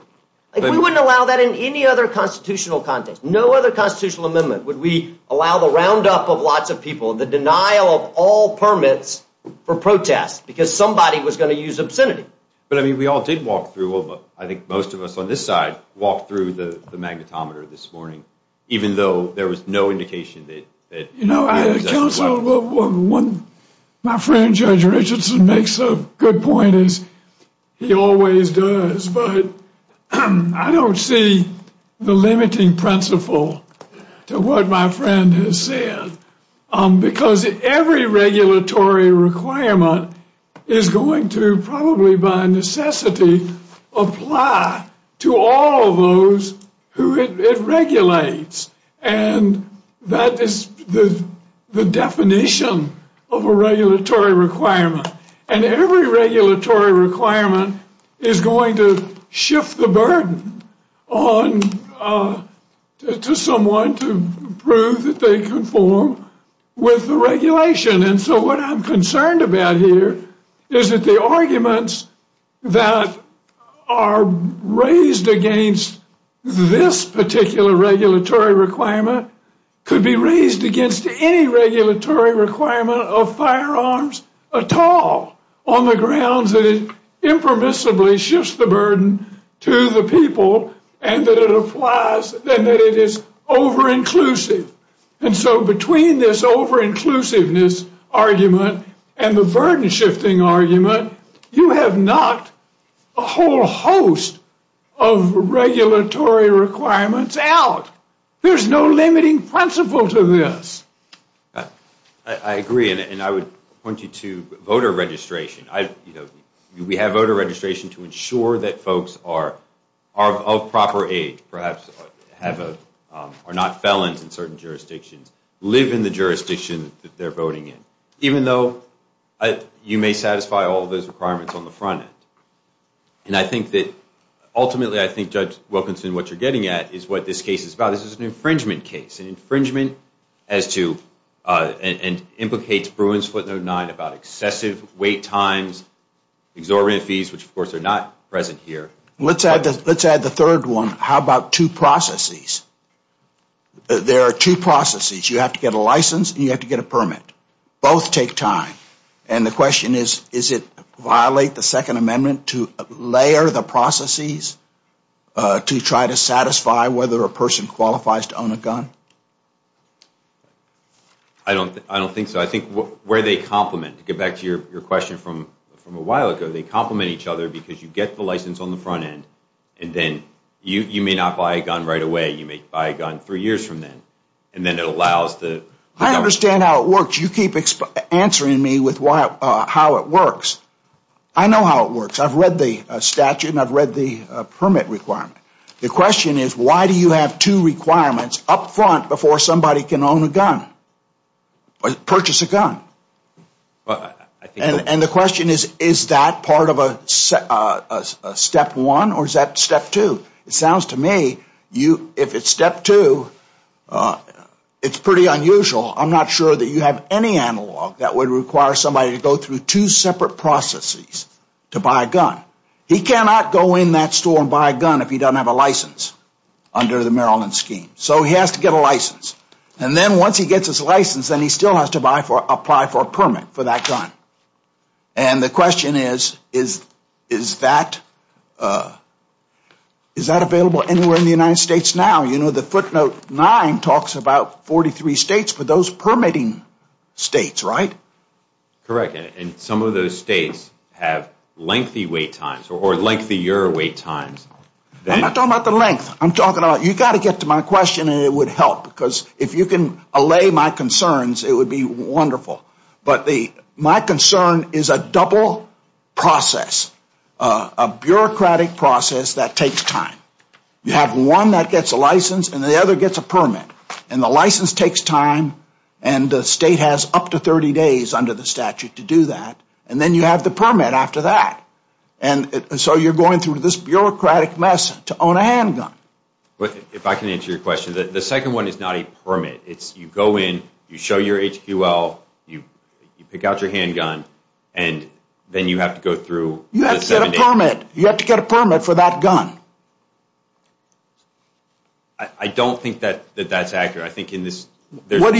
We wouldn't allow that in any other constitutional context. No other constitutional amendment would we allow the roundup of lots of people and the denial of all permits for protest because somebody was going to use obscenity. But, I mean, we all did walk through. I think most of us on this side walked through the magnetometer this morning, even though there was no indication that— My friend Judge Richardson makes a good point, as he always does, but I don't see the limiting principle to what my friend has said because every regulatory requirement is going to probably by necessity apply to all those who it regulates. And that is the definition of a regulatory requirement. And every regulatory requirement is going to shift the burden to someone to prove that they conform with the regulation. And so what I'm concerned about here is that the arguments that are raised against this particular regulatory requirement could be raised against any regulatory requirement of firearms at all on the grounds that it impermissibly shifts the burden to the people and that it is over-inclusive. And so between this over-inclusiveness argument and the burden-shifting argument, you have knocked a whole host of regulatory requirements out. There's no limiting principle to this. I agree, and I would point you to voter registration. We have voter registration to ensure that folks are of proper age, perhaps are not felons in certain jurisdictions, live in the jurisdiction that they're voting in. Even though you may satisfy all of those requirements on the front end. And I think that ultimately I think, Judge Wilkinson, what you're getting at is what this case is about. This is an infringement case, an infringement as to and implicates Bruins, footnote 9 about excessive wait times, exorbitant fees, which of course are not present here. Let's add the third one. How about two processes? There are two processes. You have to get a license and you have to get a permit. Both take time. And the question is, is it violate the Second Amendment to layer the processes to try to satisfy whether a person qualifies to own a gun? I don't think so. I think where they complement, to get back to your question from a while ago, they complement each other because you get the license on the front end and then you may not buy a gun right away. You may buy a gun three years from then. I understand how it works. You keep answering me with how it works. I know how it works. I've read the statute and I've read the permit requirement. The question is, why do you have two requirements up front before somebody can own a gun or purchase a gun? And the question is, is that part of a step one or is that step two? It sounds to me if it's step two, it's pretty unusual. I'm not sure that you have any analog that would require somebody to go through two separate processes to buy a gun. He cannot go in that store and buy a gun if he doesn't have a license under the Maryland scheme. So he has to get a license. And then once he gets his license, then he still has to apply for a permit for that gun. And the question is, is that available anywhere in the United States now? You know, the footnote 9 talks about 43 states for those permitting states, right? Correct. And some of those states have lengthy wait times or lengthier wait times. I'm not talking about the length. You've got to get to my question and it would help because if you can allay my concerns, it would be wonderful. But my concern is a double process, a bureaucratic process that takes time. You have one that gets a license and the other gets a permit. And the license takes time and the state has up to 30 days under the statute to do that. And then you have the permit after that. And so you're going through this bureaucratic lesson to own a handgun. If I can answer your question, the second one is not a permit. It's you go in, you show your HQL, you pick out your handgun, and then you have to go through. You have to get a permit. You have to get a permit for that gun. I don't think that that's accurate. I think in this there's one. What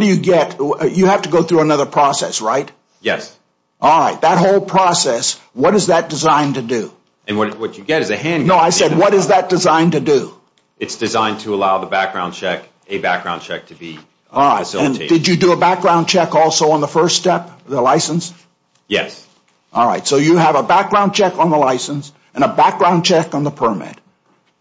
do you get? You have to go through another process, right? Yes. All right. That whole process, what is that designed to do? And what you get is a handgun. No, I said what is that designed to do? It's designed to allow the background check, a background check to be facilitated. All right. And did you do a background check also on the first step, the license? Yes. All right. So you have a background check on the license and a background check on the permit.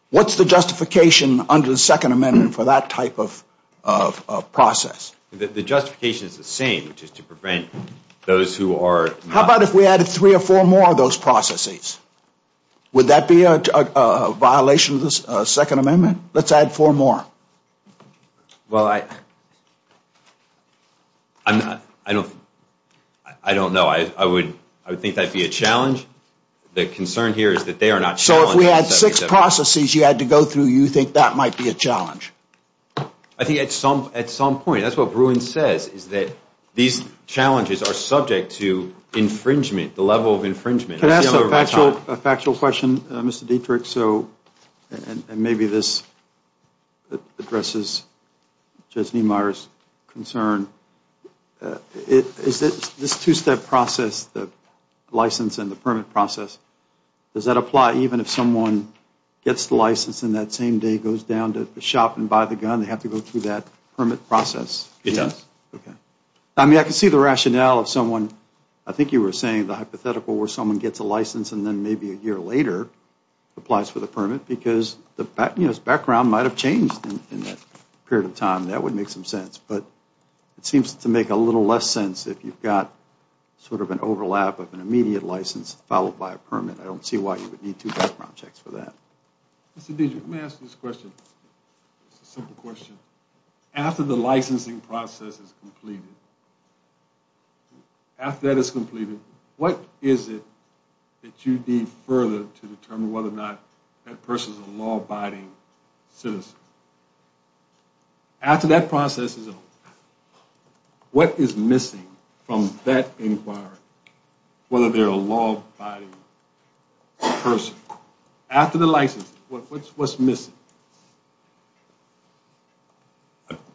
What's the justification under the Second Amendment for that type of process? The justification is the same, which is to prevent those who are not. How about if we added three or four more of those processes? Would that be a violation of the Second Amendment? Let's add four more. Well, I don't know. I would think that would be a challenge. The concern here is that they are not challenging. So if we had six processes you had to go through, you think that might be a challenge? I think at some point. That's what Bruin says, is that these challenges are subject to infringement, the level of infringement. Can I ask a factual question, Mr. Dietrich? And maybe this addresses Jesnee Meyer's concern. Is this two-step process, the license and the permit process, does that apply even if someone gets the license and that same day goes down to the shop and buys the gun, they have to go through that permit process? Yes. Okay. I mean, I can see the rationale of someone. I think you were saying the hypothetical where someone gets a license and then maybe a year later applies for the permit because the background might have changed in that period of time. That would make some sense. But it seems to make a little less sense if you've got sort of an overlap of an immediate license followed by a permit. I don't see why you would need two background checks for that. Let me ask this question, a simple question. After the licensing process is completed, after that is completed, what is it that you need further to determine whether or not that person is a law-abiding citizen? After that process is over, what is missing from that environment, whether they're a law-abiding person? After the license, what's missing?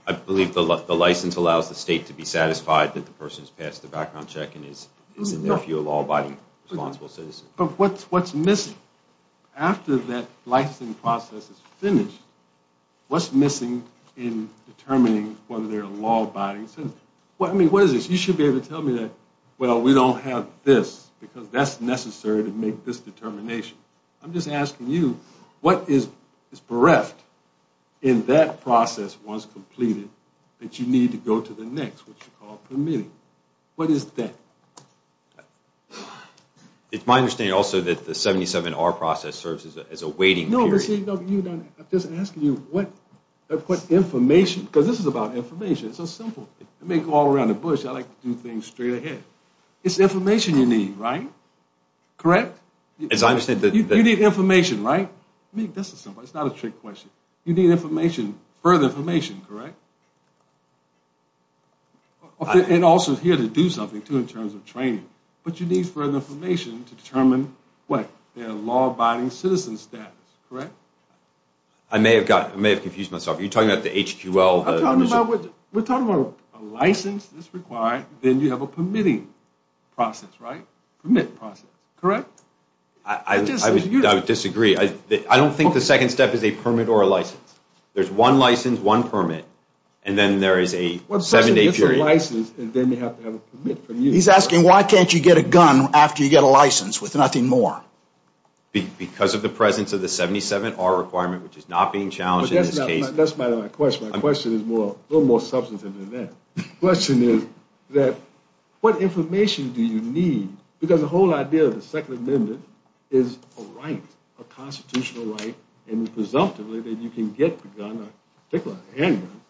I believe the license allows the state to be satisfied that the person has passed the background check and is, in their view, a law-abiding responsible citizen. But what's missing? After that licensing process is finished, what's missing in determining whether they're a law-abiding citizen? I mean, you should be able to tell me that, well, we don't have this because that's necessary to make this determination. I'm just asking you, what is bereft in that process once completed that you need to go to the next, which is called permitting? What is that? It's my understanding also that the 77R process serves as a waiting period. No, but see, I'm just asking you what information, because this is about information. It's so simple. It may go all around the bush. I like to do things straight ahead. It's information you need, right? Correct? You need information, right? I mean, this is simple. It's not a trick question. You need information, further information, correct? And also here to do something, too, in terms of training. But you need further information to determine what? Their law-abiding citizen status, correct? I may have confused myself. Are you talking about the HQL? We're talking about a license that's required, then you have a permitting process, right? Permit process, correct? I would disagree. I don't think the second step is a permit or a license. There's one license, one permit, and then there is a seven-day period. He's asking, why can't you get a gun after you get a license with nothing more? Because of the presence of the 77R requirement, which is not being challenged in this case. That's my question. My question is a little more substantive than that. The question is, what information do you need? Because the whole idea of the Second Amendment is a right, a constitutional right, and it's presumptive that you can get the gun, particularly a handgun,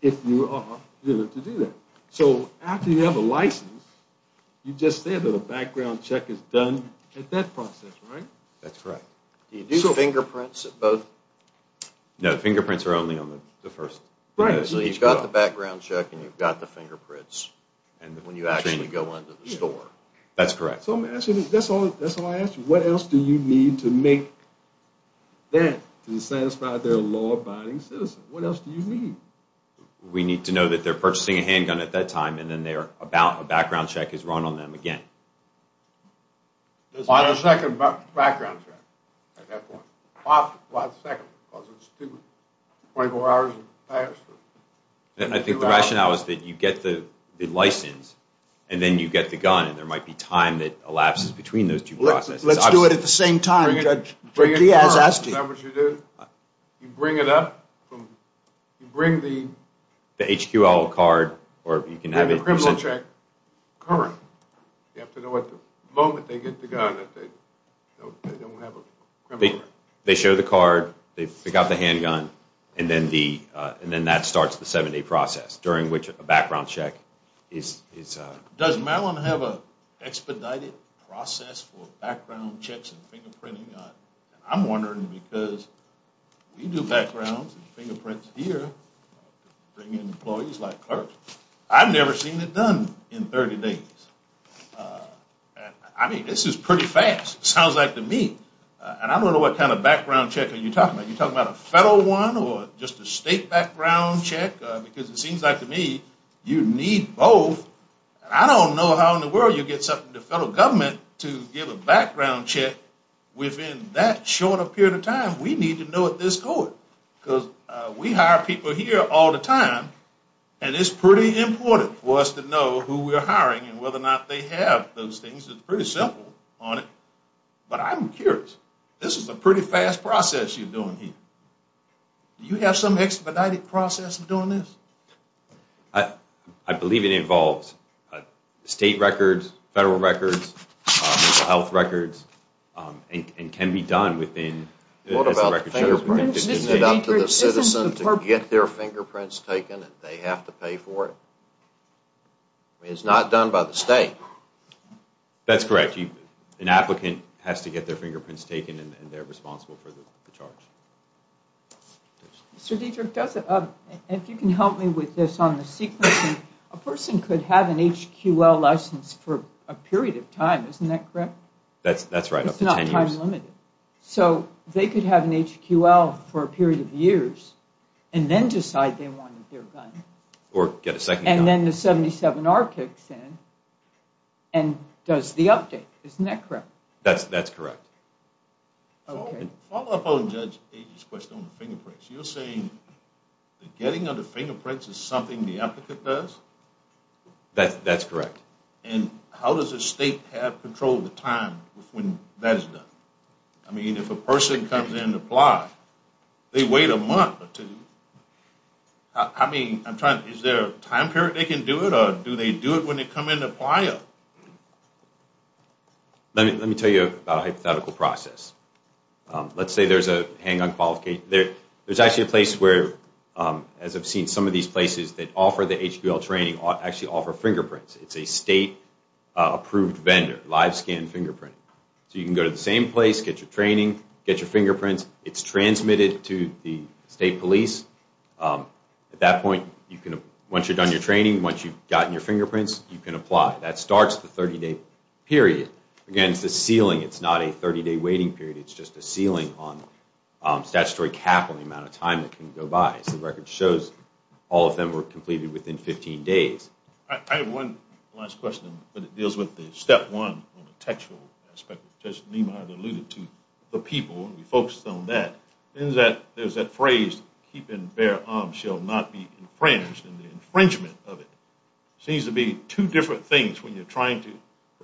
if you are willing to do that. So after you have a license, you just say that a background check is done at that process, right? That's right. Do you do fingerprints at both? No, fingerprints are only on the first. Right, so you've got the background check and you've got the fingerprints, and when you actually go into the store. That's correct. That's what I asked you. What else do you need to make them be satisfied they're a law-abiding citizen? What else do you need? We need to know that they're purchasing a handgun at that time, and then a background check is run on them again. On a second background check, at that point. Last second. 24 hours. I think the rationale is that you get the license, and then you get the gun, and there might be time that elapses between those two processes. Let's do it at the same time. That's what you do. You bring it up. You bring the criminal check. You have to know at the moment they get the gun that they don't have a criminal record. They show the card, they pick out the handgun, and then that starts the seven-day process during which a background check is done. Does Maryland have an expedited process for background checks and fingerprinting? I'm wondering because we do backgrounds and fingerprints here, bringing employees like her. I've never seen it done in 30 days. I mean, this is pretty fast. It sounds like to me, and I don't know what kind of background check are you talking about. Are you talking about a federal one or just a state background check? Because it seems like to me you need both, and I don't know how in the world you'd get something from the federal government to give a background check within that short a period of time. We need to know at this point because we hire people here all the time, and it's pretty important for us to know who we're hiring and whether or not they have those things. It's pretty simple on it. But I'm curious. This is a pretty fast process you're doing here. Do you have some expedited process for doing this? I believe it involves state records, federal records, health records, and can be done within the records. What about the fingerprints? Isn't it up to the citizen to get their fingerprints taken and they have to pay for it? It's not done by the state. That's correct. An applicant has to get their fingerprints taken, and they're responsible for the charge. Mr. Dietrich, if you can help me with this on the sequencing, a person could have an HQL license for a period of time. Isn't that correct? That's right, up to 10 years. It's not time limited. So they could have an HQL for a period of years and then decide they want their gun. Or get a second gun. And then the 77R kicks in and does the update. Isn't that correct? That's correct. I want to follow up on Jed's question on fingerprints. You're saying that getting other fingerprints is something the applicant does? That's correct. And how does the state have control of the time when that's done? I mean, if a person comes in to apply, they wait a month. I mean, is there a time period they can do it, or do they do it when they come in to apply? Let me tell you about a hypothetical process. Let's say there's a hang-on qualification. There's actually a place where, as I've seen, some of these places that offer the HQL training actually offer fingerprints. It's a state-approved vendor, Live Scan Fingerprint. So you can go to the same place, get your training, get your fingerprints. It's transmitted to the state police. At that point, once you've done your training, once you've gotten your fingerprints, you can apply. That starts the 30-day period. Again, it's a ceiling. It's not a 30-day waiting period. It's just a ceiling on statutory capital, the amount of time that can go by. The record shows all of them were completed within 15 days. I have one last question, but it deals with the step one on the textual aspect. Judge Niemeyer alluded to the people, and we focused on that. There's that phrase, keeping bare arms shall not be infringed, and the infringement of it. It seems to be two different things when you're trying to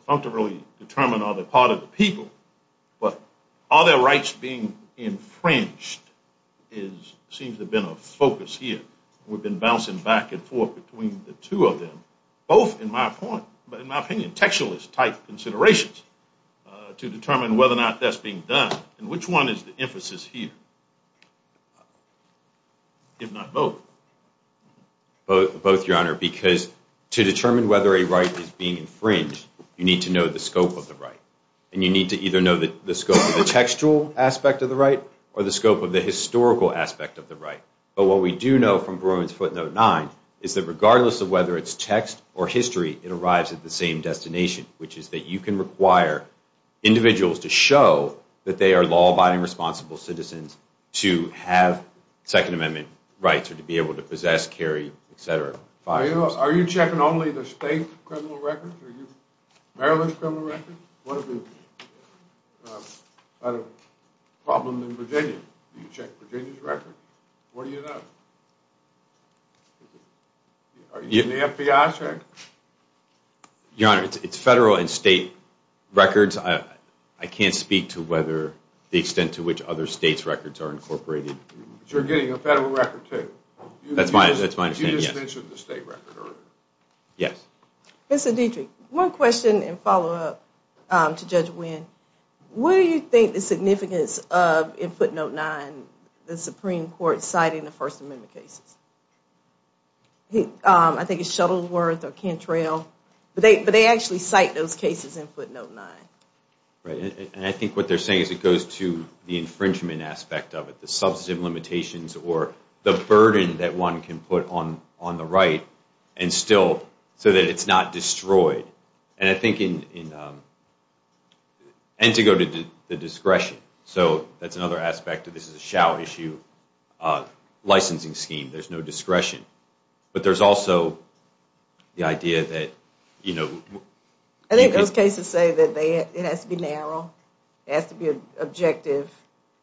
propunctually determine on the part of the people. But are there rights being infringed seems to have been a focus here. We've been bouncing back and forth between the two of them, both in my point, but in my opinion, textualist-type considerations, to determine whether or not that's being done. And which one is the emphasis here, if not both? Both, Your Honor, because to determine whether a right is being infringed, you need to know the scope of the right. And you need to either know the scope of the textual aspect of the right, or the scope of the historical aspect of the right. But what we do know from Bruins Footnote 9 is that regardless of whether it's text or history, it arrives at the same destination, which is that you can require individuals to show that they are law-abiding, responsible citizens to have Second Amendment rights, or to be able to possess, carry, etc. Are you checking only the state criminal records? Are you checking Maryland's criminal records? What is the problem in Virginia? Do you check Virginia's records? What do you know? Are you checking the FBI's records? Your Honor, it's federal and state records. I can't speak to the extent to which other states' records are incorporated. But you're getting a federal record, too? That's my understanding, yes. You just mentioned the state record earlier. Yes. Mr. Dietrich, one question and follow-up to Judge Winn. What do you think the significance of, in Footnote 9, the Supreme Court citing the First Amendment case? I think it's Shuttleworth or Cantrell. But they actually cite those cases in Footnote 9. Right. And I think what they're saying is it goes to the infringement aspect of it, the substantive limitations or the burden that one can put on the right so that it's not destroyed. And I think to go to the discretion, so that's another aspect that this is a shout issue licensing scheme. There's no discretion. But there's also the idea that, you know... I think those cases say that it has to be narrow, it has to be objective.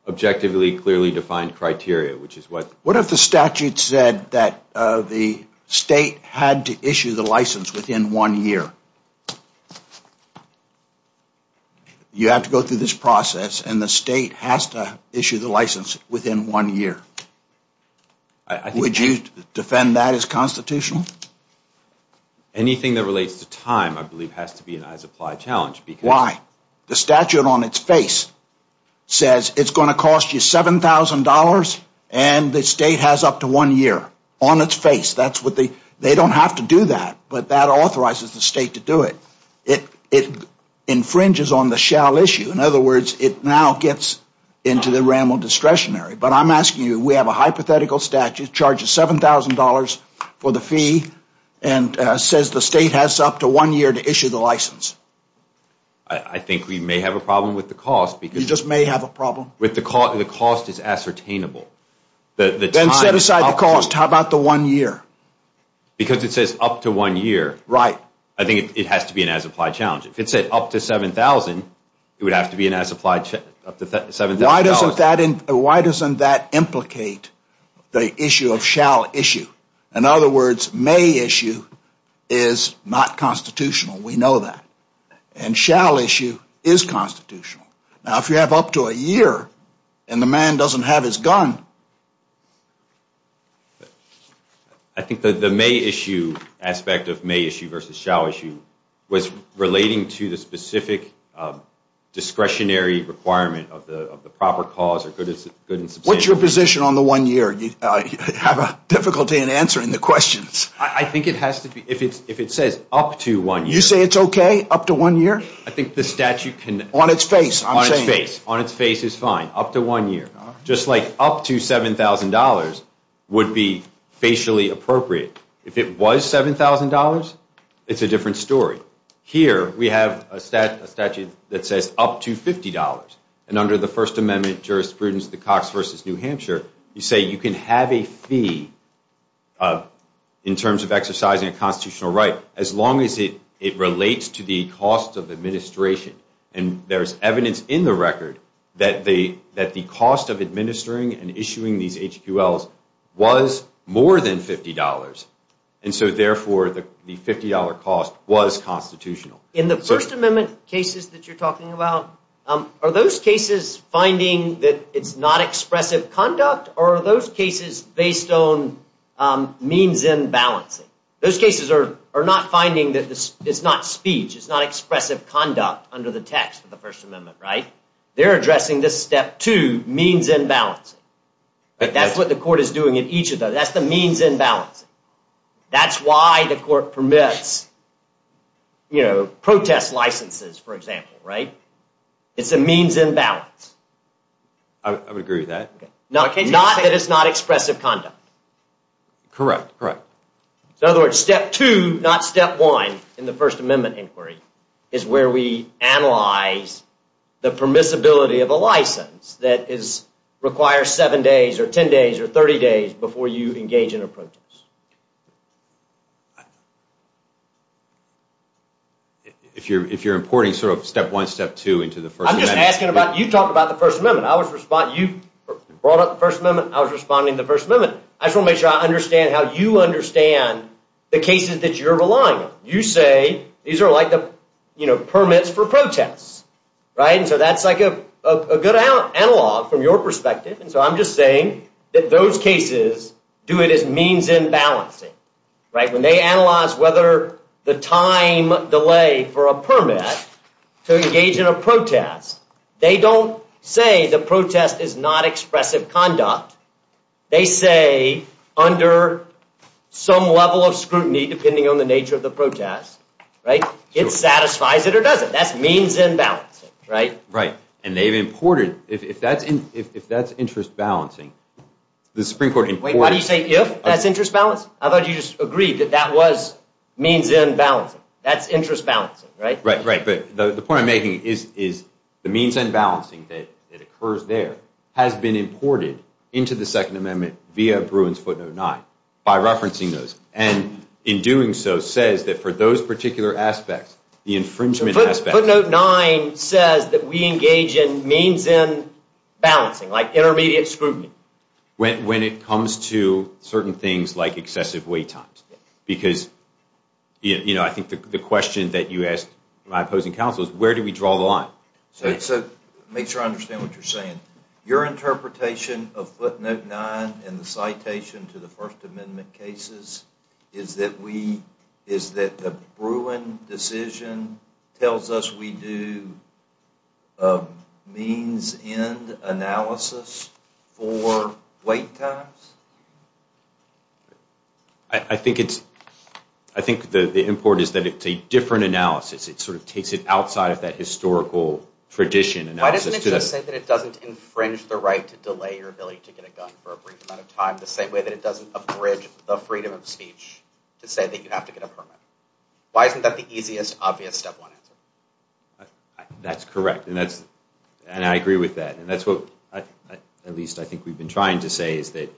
Objectively clearly defined criteria, which is what... What if the statute said that the state had to issue the license within one year? You have to go through this process, and the state has to issue the license within one year. Would you defend that as constitutional? Anything that relates to time, I believe, has to be an applied challenge. Why? The statute on its face says it's going to cost you $7,000, and the state has up to one year on its face. They don't have to do that, but that authorizes the state to do it. It infringes on the shout issue. In other words, it now gets into the ramble discretionary. But I'm asking you, we have a hypothetical statute, charges $7,000 for the fee and says the state has up to one year to issue the license. I think we may have a problem with the cost. You just may have a problem? The cost is ascertainable. Then set aside the cost. How about the one year? Because it says up to one year. Right. I think it has to be an as-applied challenge. If it said up to $7,000, it would have to be an as-applied challenge. Why doesn't that implicate the issue of shout issue? In other words, may issue is not constitutional. We know that. And shall issue is constitutional. Now, if you have up to a year and the man doesn't have his gun... I think that the may issue aspect of may issue versus shall issue was relating to the specific discretionary requirement of the proper cause. What's your position on the one year? I have difficulty in answering the question. I think if it says up to one year... You say it's okay up to one year? I think the statute can... On its face, I'm saying. On its face is fine. Up to one year. Just like up to $7,000 would be facially appropriate. If it was $7,000, it's a different story. Here we have a statute that says up to $50. And under the First Amendment jurisprudence of the Cox v. New Hampshire, you say you can have a fee in terms of exercising a constitutional right as long as it relates to the cost of administration. And there's evidence in the record that the cost of administering and issuing these HQLs was more than $50. And so, therefore, the $50 cost was constitutional. In the First Amendment cases that you're talking about, are those cases finding that it's not expressive conduct or are those cases based on means in balance? Those cases are not finding that it's not speech, it's not expressive conduct under the text of the First Amendment, right? They're addressing this step two, means in balance. That's what the court is doing in each of those. That's the means in balance. That's why the court permits, you know, protest licenses, for example, right? It's a means in balance. I would agree with that. Not that it's not expressive conduct. Correct, correct. In other words, step two, not step one in the First Amendment inquiry is where we analyze the permissibility of a license that requires seven days or ten days or thirty days before you engage in a protest. If you're importing sort of step one, step two into the First Amendment... I'm just asking about, you talk about the First Amendment. I was responding, you brought up the First Amendment, I was responding to the First Amendment. I just want to make sure I understand how you understand the cases that you're relying on. You say these are like the permits for protests, right? So that's like a good analog from your perspective. So I'm just saying that those cases do it as means in balance. When they analyze whether the time delay for a permit to engage in a protest, they don't say the protest is not expressive conduct. They say under some level of scrutiny, it satisfies it or doesn't. But that's means in balance, right? Right, and they've imported... If that's interest balancing, the Supreme Court... Wait, why do you say if that's interest balancing? I thought you just agreed that that was means in balancing. That's interest balancing, right? Right, but the point I'm making is the means in balancing that occurs there has been imported into the Second Amendment via Bruins, Foote, and O'Neill by referencing those and in doing so says that for those particular aspects, the infringement aspect... Footnote 9 says that we engage in means in balancing, like intermediate scrutiny. When it comes to certain things like excessive wait times. Because I think the question that you ask my opposing counsel is where do we draw the line? So make sure I understand what you're saying. Your interpretation of Footnote 9 and the citation to the First Amendment cases is that the Bruin decision tells us we do means in analysis for wait times? I think the import is that it's a different analysis. It sort of takes it outside of that historical tradition. Why doesn't it just say that it doesn't infringe the right to delay your ability to get a gun for a brief amount of time the same way that it doesn't abridge the freedom of speech to say that you have to get a permit? Why is that the easiest, obvious step one? That's correct, and I agree with that. And that's what, at least I think we've been trying to say, is that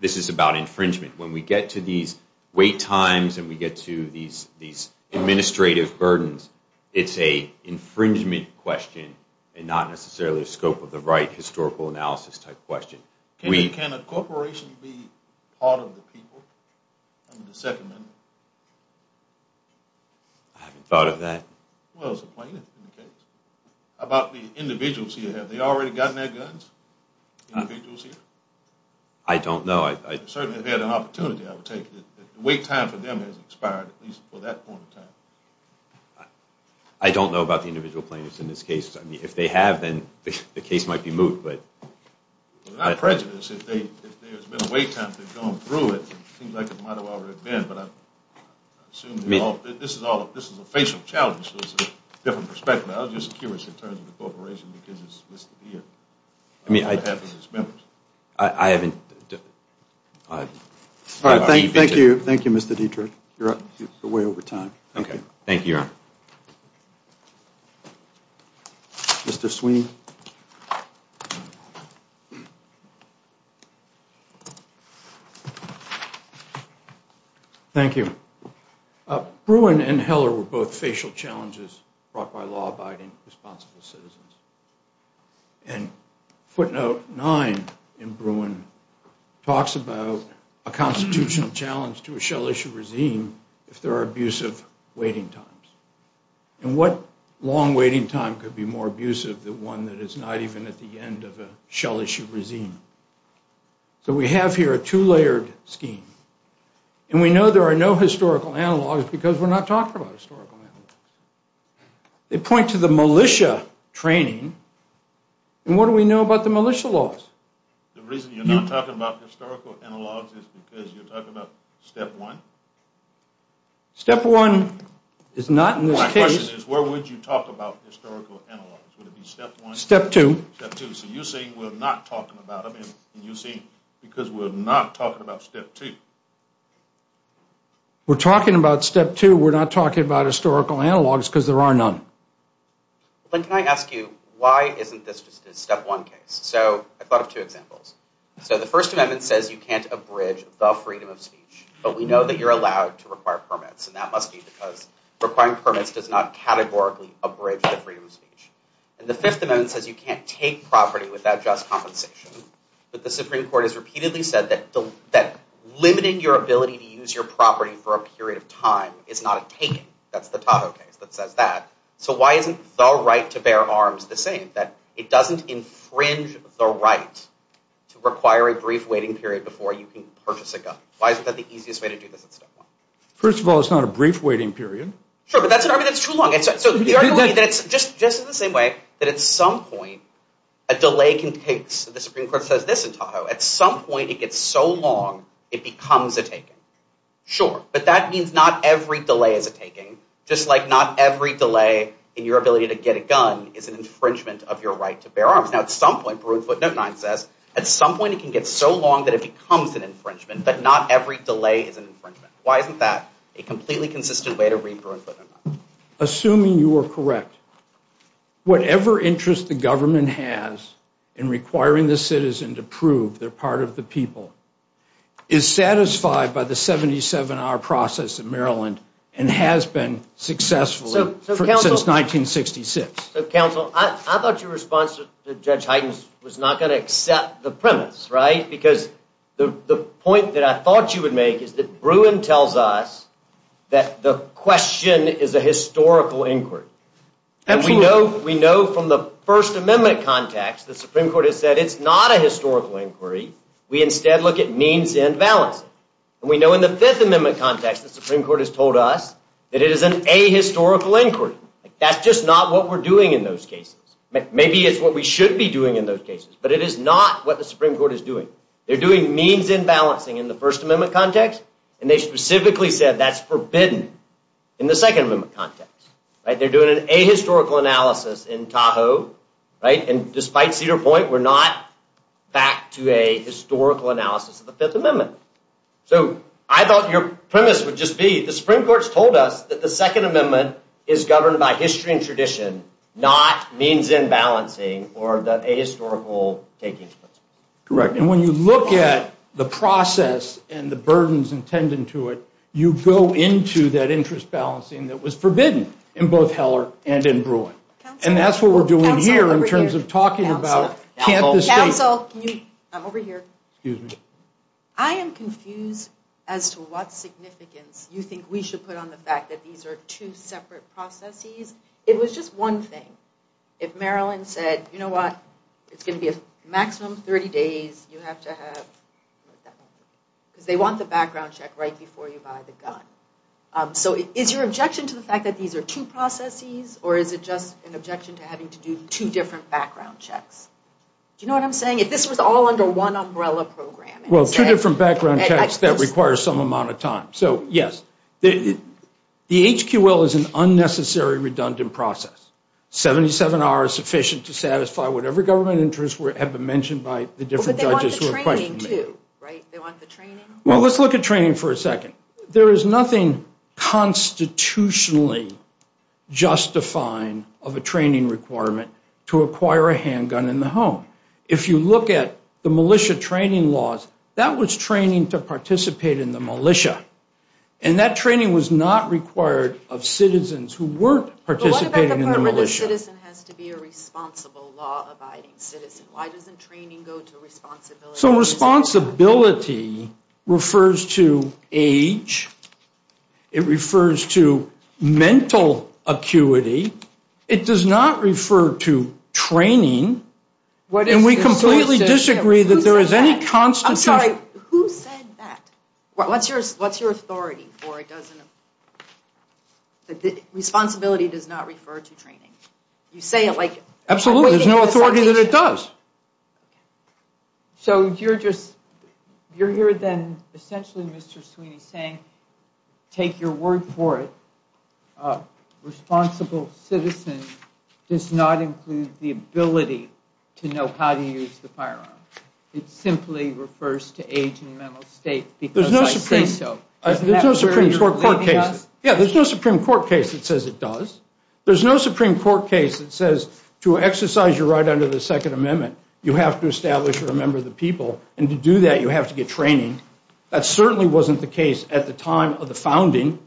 this is about infringement. When we get to these wait times and we get to these administrative burdens, it's an infringement question and not necessarily a scope of the right historical analysis type question. Can a corporation be part of the people under the Second Amendment? I haven't thought of that. Well, it's a plaintiff's case. About the individuals here, have they already gotten their guns? Individuals here? I don't know. They certainly have had an opportunity. The wait time for them has expired, at least for that point in time. I don't know about the individual plaintiffs in this case. If they have, then the case might be moved, but without prejudice, if there's been a wait time to go through it, it seems like it might have already been, but I'm assuming this is a facial challenge. This is a different perspective. I was just curious in terms of the corporation, because it's supposed to be here. I mean, what happens as members? I haven't... All right, thank you, Mr. Dietrich. You're up. It's way over time. Okay, thank you. Mr. Sweeney. Thank you. Bruin and Heller were both facial challenges brought by law-abiding, responsible citizens. And footnote nine in Bruin talks about a constitutional challenge to a shell issue regime if there are abusive waiting times. And what long waiting time could be more abusive than one that is not even at the end of a shell issue regime? So we have here a two-layered scheme, and we know there are no historical analogs because we're not talking about historical analogs. They point to the militia training, and what do we know about the militia laws? The reason you're not talking about historical analogs is because you're talking about step one? Step one is not in this case. My question is, where would you talk about historical analogs? Would it be step one? Step two. Step two. So you're saying we're not talking about them, and you're saying because we're not talking about step two. We're talking about step two. We're not talking about historical analogs because there are none. Glenn, can I ask you, why isn't this a step one case? So I've got two examples. So the First Amendment says you can't abridge the freedom of speech, but we know that you're allowed to require permits, and that must be because requiring permits does not categorically abridge the freedom of speech. And the Fifth Amendment says you can't take property without just compensation, but the Supreme Court has repeatedly said that limiting your ability to use your property for a period of time is not a taking. That's the Tato case that says that. So why isn't the right to bear arms the same, that it doesn't infringe the right to require a brief waiting period before you can purchase a gun? Why is that the easiest way to do this at this point? First of all, it's not a brief waiting period. Sure, but that's an argument that's too long. Just in the same way that at some point, a delay can take, the Supreme Court says this in Tato, at some point it gets so long, it becomes a taking. Sure, but that means not every delay is a taking, just like not every delay in your ability to get a gun is an infringement of your right to bear arms. Now, at some point, Peru in footnote nine says, at some point it can get so long that it becomes an infringement, but not every delay is an infringement. Why isn't that a completely consistent way to read Peru in footnote nine? Assuming you are correct, whatever interest the government has in requiring the citizen to prove they're part of the people is satisfied by the 77-hour process in Maryland and has been successfully since 1966. So, counsel, I thought your response to Judge Hyden's was not going to accept the premise, right? Because the point that I thought you would make is that Bruin tells us that the question is a historical inquiry. And we know from the First Amendment context the Supreme Court has said it's not a historical inquiry. We instead look at needs and values. And we know in the Fifth Amendment context the Supreme Court has told us that it is an ahistorical inquiry. That's just not what we're doing in those cases. Maybe it's what we should be doing in those cases, but it is not what the Supreme Court is doing. They're doing means imbalancing in the First Amendment context, and they specifically said that's forbidden in the Second Amendment context. They're doing an ahistorical analysis in Tahoe, and despite Cedar Point, we're not back to a historical analysis of the Fifth Amendment. So, I thought your premise would just be the Supreme Court's told us that the Second Amendment is governed by history and tradition, not means imbalancing or the ahistorical taking place. Correct. And when you look at the process and the burdens intended to it, you go into that interest balancing that was forbidden in both Heller and in Bruin. And that's what we're doing here in terms of talking about Kansas State. Cancel. I'm over here. Excuse me. I am confused as to what significance you think we should put on the fact that these are two separate processes. It was just one thing. If Maryland said, you know what, it's going to be a maximum 30 days, you have to have, because they want the background check right before you buy the gun. So, is your objection to the fact that these are two processes, or is it just an objection to having to do two different background checks? Do you know what I'm saying? If this was all under one umbrella program. Well, two different background checks that require some amount of time. So, yes. The HQL is an unnecessary, redundant process. 77 hours sufficient to satisfy whatever government interests have been mentioned by the different judges who have questioned it. But they want the training too, right? They want the training? Well, let's look at training for a second. There is nothing constitutionally justifying of a training requirement to acquire a handgun in the home. If you look at the militia training laws, that was training to participate in the militia. And that training was not required of citizens who weren't participating in the militia. But what kind of a citizen has to be a responsible law-abiding citizen? Why doesn't training go to responsibility? So, responsibility refers to age. It refers to mental acuity. It does not refer to training. And we completely disagree that there is any constitutional... I'm sorry, who said that? What's your authority for it? Responsibility does not refer to training. You say it like... Absolutely, there's no authority that it does. So, you're just... You're here then, essentially, Mr. Sweeney, saying, take your word for it, a responsible citizen does not include the ability to know how to use the firearm. It simply refers to age and mental state because I say so. There's no Supreme Court case... Yeah, there's no Supreme Court case that says it does. There's no Supreme Court case that says to exercise your right under the Second Amendment, you have to establish or remember the people. And to do that, you have to get training. That certainly wasn't the case at the time of the founding.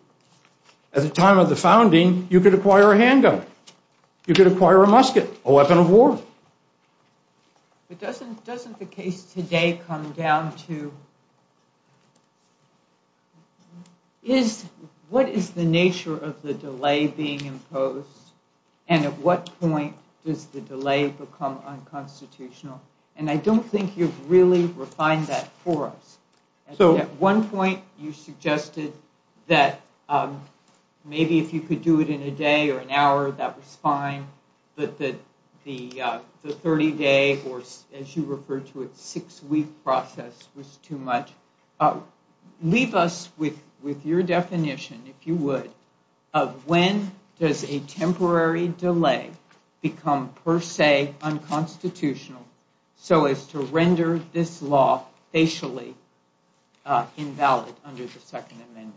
At the time of the founding, you could acquire a handgun. You could acquire a musket, a weapon of war. Doesn't the case today come down to... What is the nature of the delay being imposed? And at what point does the delay become unconstitutional? And I don't think you've really refined that for us. So, at one point, you suggested that maybe if you could do it in a day or an hour, that was fine. But that the 30-day or, as you referred to it, six-week process was too much. Leave us with your definition, if you would, of when does a temporary delay become, per se, unconstitutional so as to render this law facially invalid under the Second Amendment?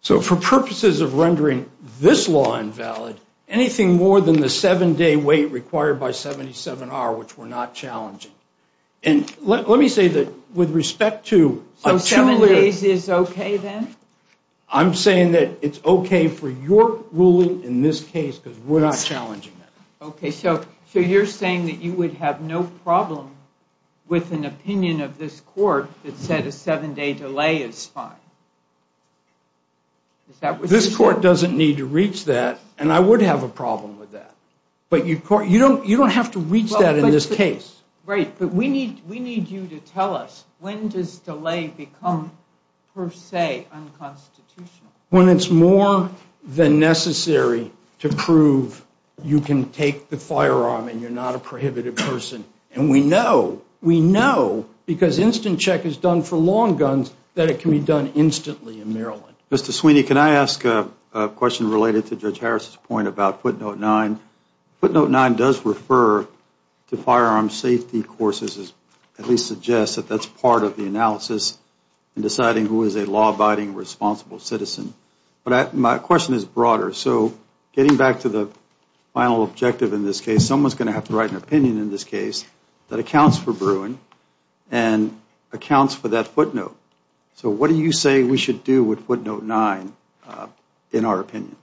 So, for purposes of rendering this law invalid, anything more than the seven-day wait required by 77R, which we're not challenging. And let me say that, with respect to... So, seven days is okay, then? I'm saying that it's okay for your ruling in this case because we're not challenging that. Okay, so you're saying that you would have no problem with an opinion of this court that said a seven-day delay is fine? This court doesn't need to reach that, and I would have a problem with that. But you don't have to reach that in this case. Right, but we need you to tell us when does delay become, per se, unconstitutional. When it's more than necessary to prove you can take the firearm and you're not a prohibited person. And we know, we know, because instant check is done for long guns, that it can be done instantly in Maryland. Mr. Sweeney, can I ask a question related to Judge Harris's point about footnote 9? Footnote 9 does refer to firearm safety courses, at least suggests that that's part of the analysis in deciding who is a law-abiding, responsible citizen. But my question is broader. So, getting back to the final objective in this case, someone's going to have to write an opinion in this case that accounts for brewing and accounts for that footnote. So, what do you say we should do with footnote 9 in our opinion?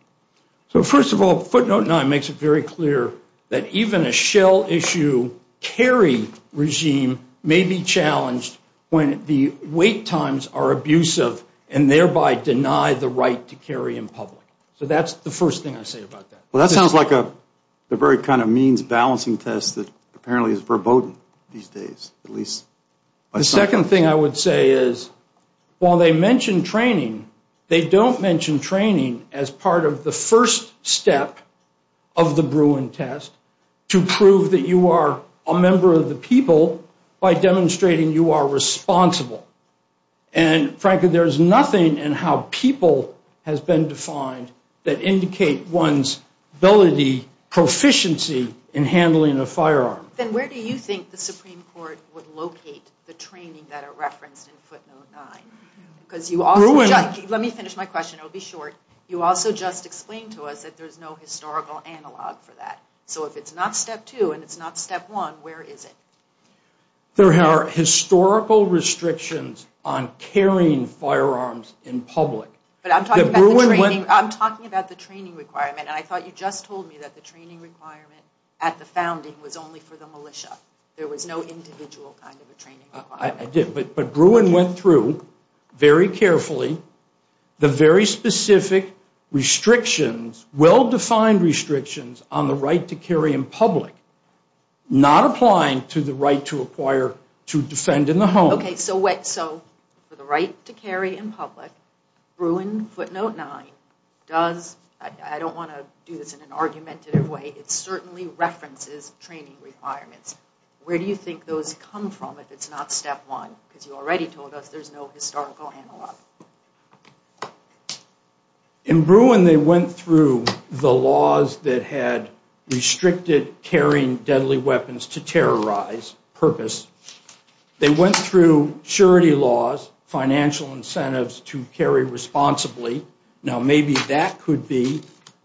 So, first of all, footnote 9 makes it very clear that even a shell issue carry regime may be challenged when the wait times are abusive and thereby deny the right to carry in public. So, that's the first thing I say about that. Well, that sounds like a very kind of means-balancing test that apparently is verboten these days, at least by some... The second thing I would say is, while they mention training, they don't mention training as part of the first step of the brewing test to prove that you are a member of the people by demonstrating you are responsible. And frankly, there's nothing in how people has been defined that indicate one's ability, proficiency in handling a firearm. Then where do you think the Supreme Court would locate the training that it referenced in footnote 9? Because you also... Let me finish my question. It'll be short. You also just explained to us that there's no historical analog for that. So, if it's not step 2 and it's not step 1, where is it? There are historical restrictions on carrying firearms in public. But I'm talking about the training requirement. I thought you just told me that the training requirement at the founding was only for the militia. There was no individual kind of a training requirement. I did, but Bruin went through very carefully the very specific restrictions, well-defined restrictions on the right to carry in public, not applying to the right to acquire, to defend in the home. Okay, so for the right to carry in public, Bruin footnote 9 does... I don't want to do this in an argumentative way. It certainly references training requirements. Where do you think those come from if it's not step 1? Because you already told us there's no historical analog. In Bruin, they went through the laws that had restricted carrying deadly weapons to terrorize purpose. They went through surety laws, financial incentives to carry responsibly. Now, maybe that could be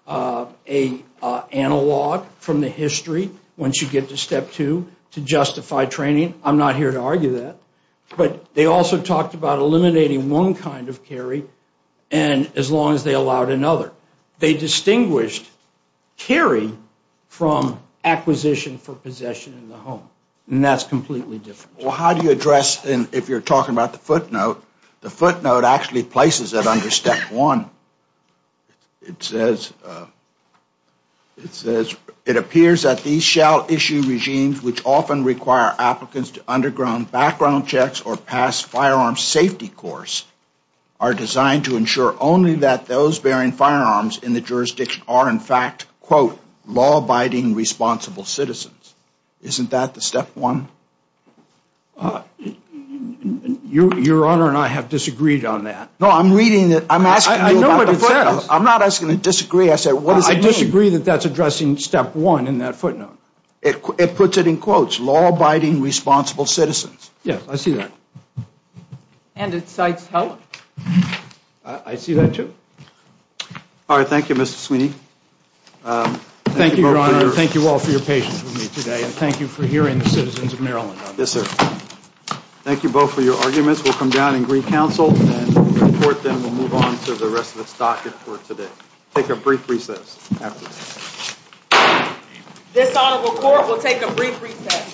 an analog from the history once you get to step 2 to justify training. I'm not here to argue that. But they also talked about eliminating one kind of carry as long as they allowed another. They distinguished carrying from acquisition for possession in the home. And that's completely different. Well, how do you address, and if you're talking about the footnote, the footnote actually places it under step 1. It says, it appears that these shall issue regimes which often require applicants to underground background checks or pass firearms safety course are designed to ensure only that those bearing firearms in the jurisdiction are in fact, quote, law-abiding responsible citizens. Isn't that the step 1? Your Honor and I have disagreed on that. No, I'm reading it. I'm asking you about the footnote. I'm not asking to disagree. I said, what does it mean? I disagree that that's addressing step 1 in that footnote. It puts it in quotes, law-abiding responsible citizens. Yes, I see that. And it cites Helen. I see that too. All right, thank you, Mr. Sweeney. Thank you, Your Honor. Thank you all for your patience with me today. And thank you for hearing the citizens of Maryland. Yes, sir. Thank you both for your arguments. We'll come down and agree counsel. And the court then will move on to the rest of the docket for today. Take a brief recess. This Honorable Court will take a brief recess.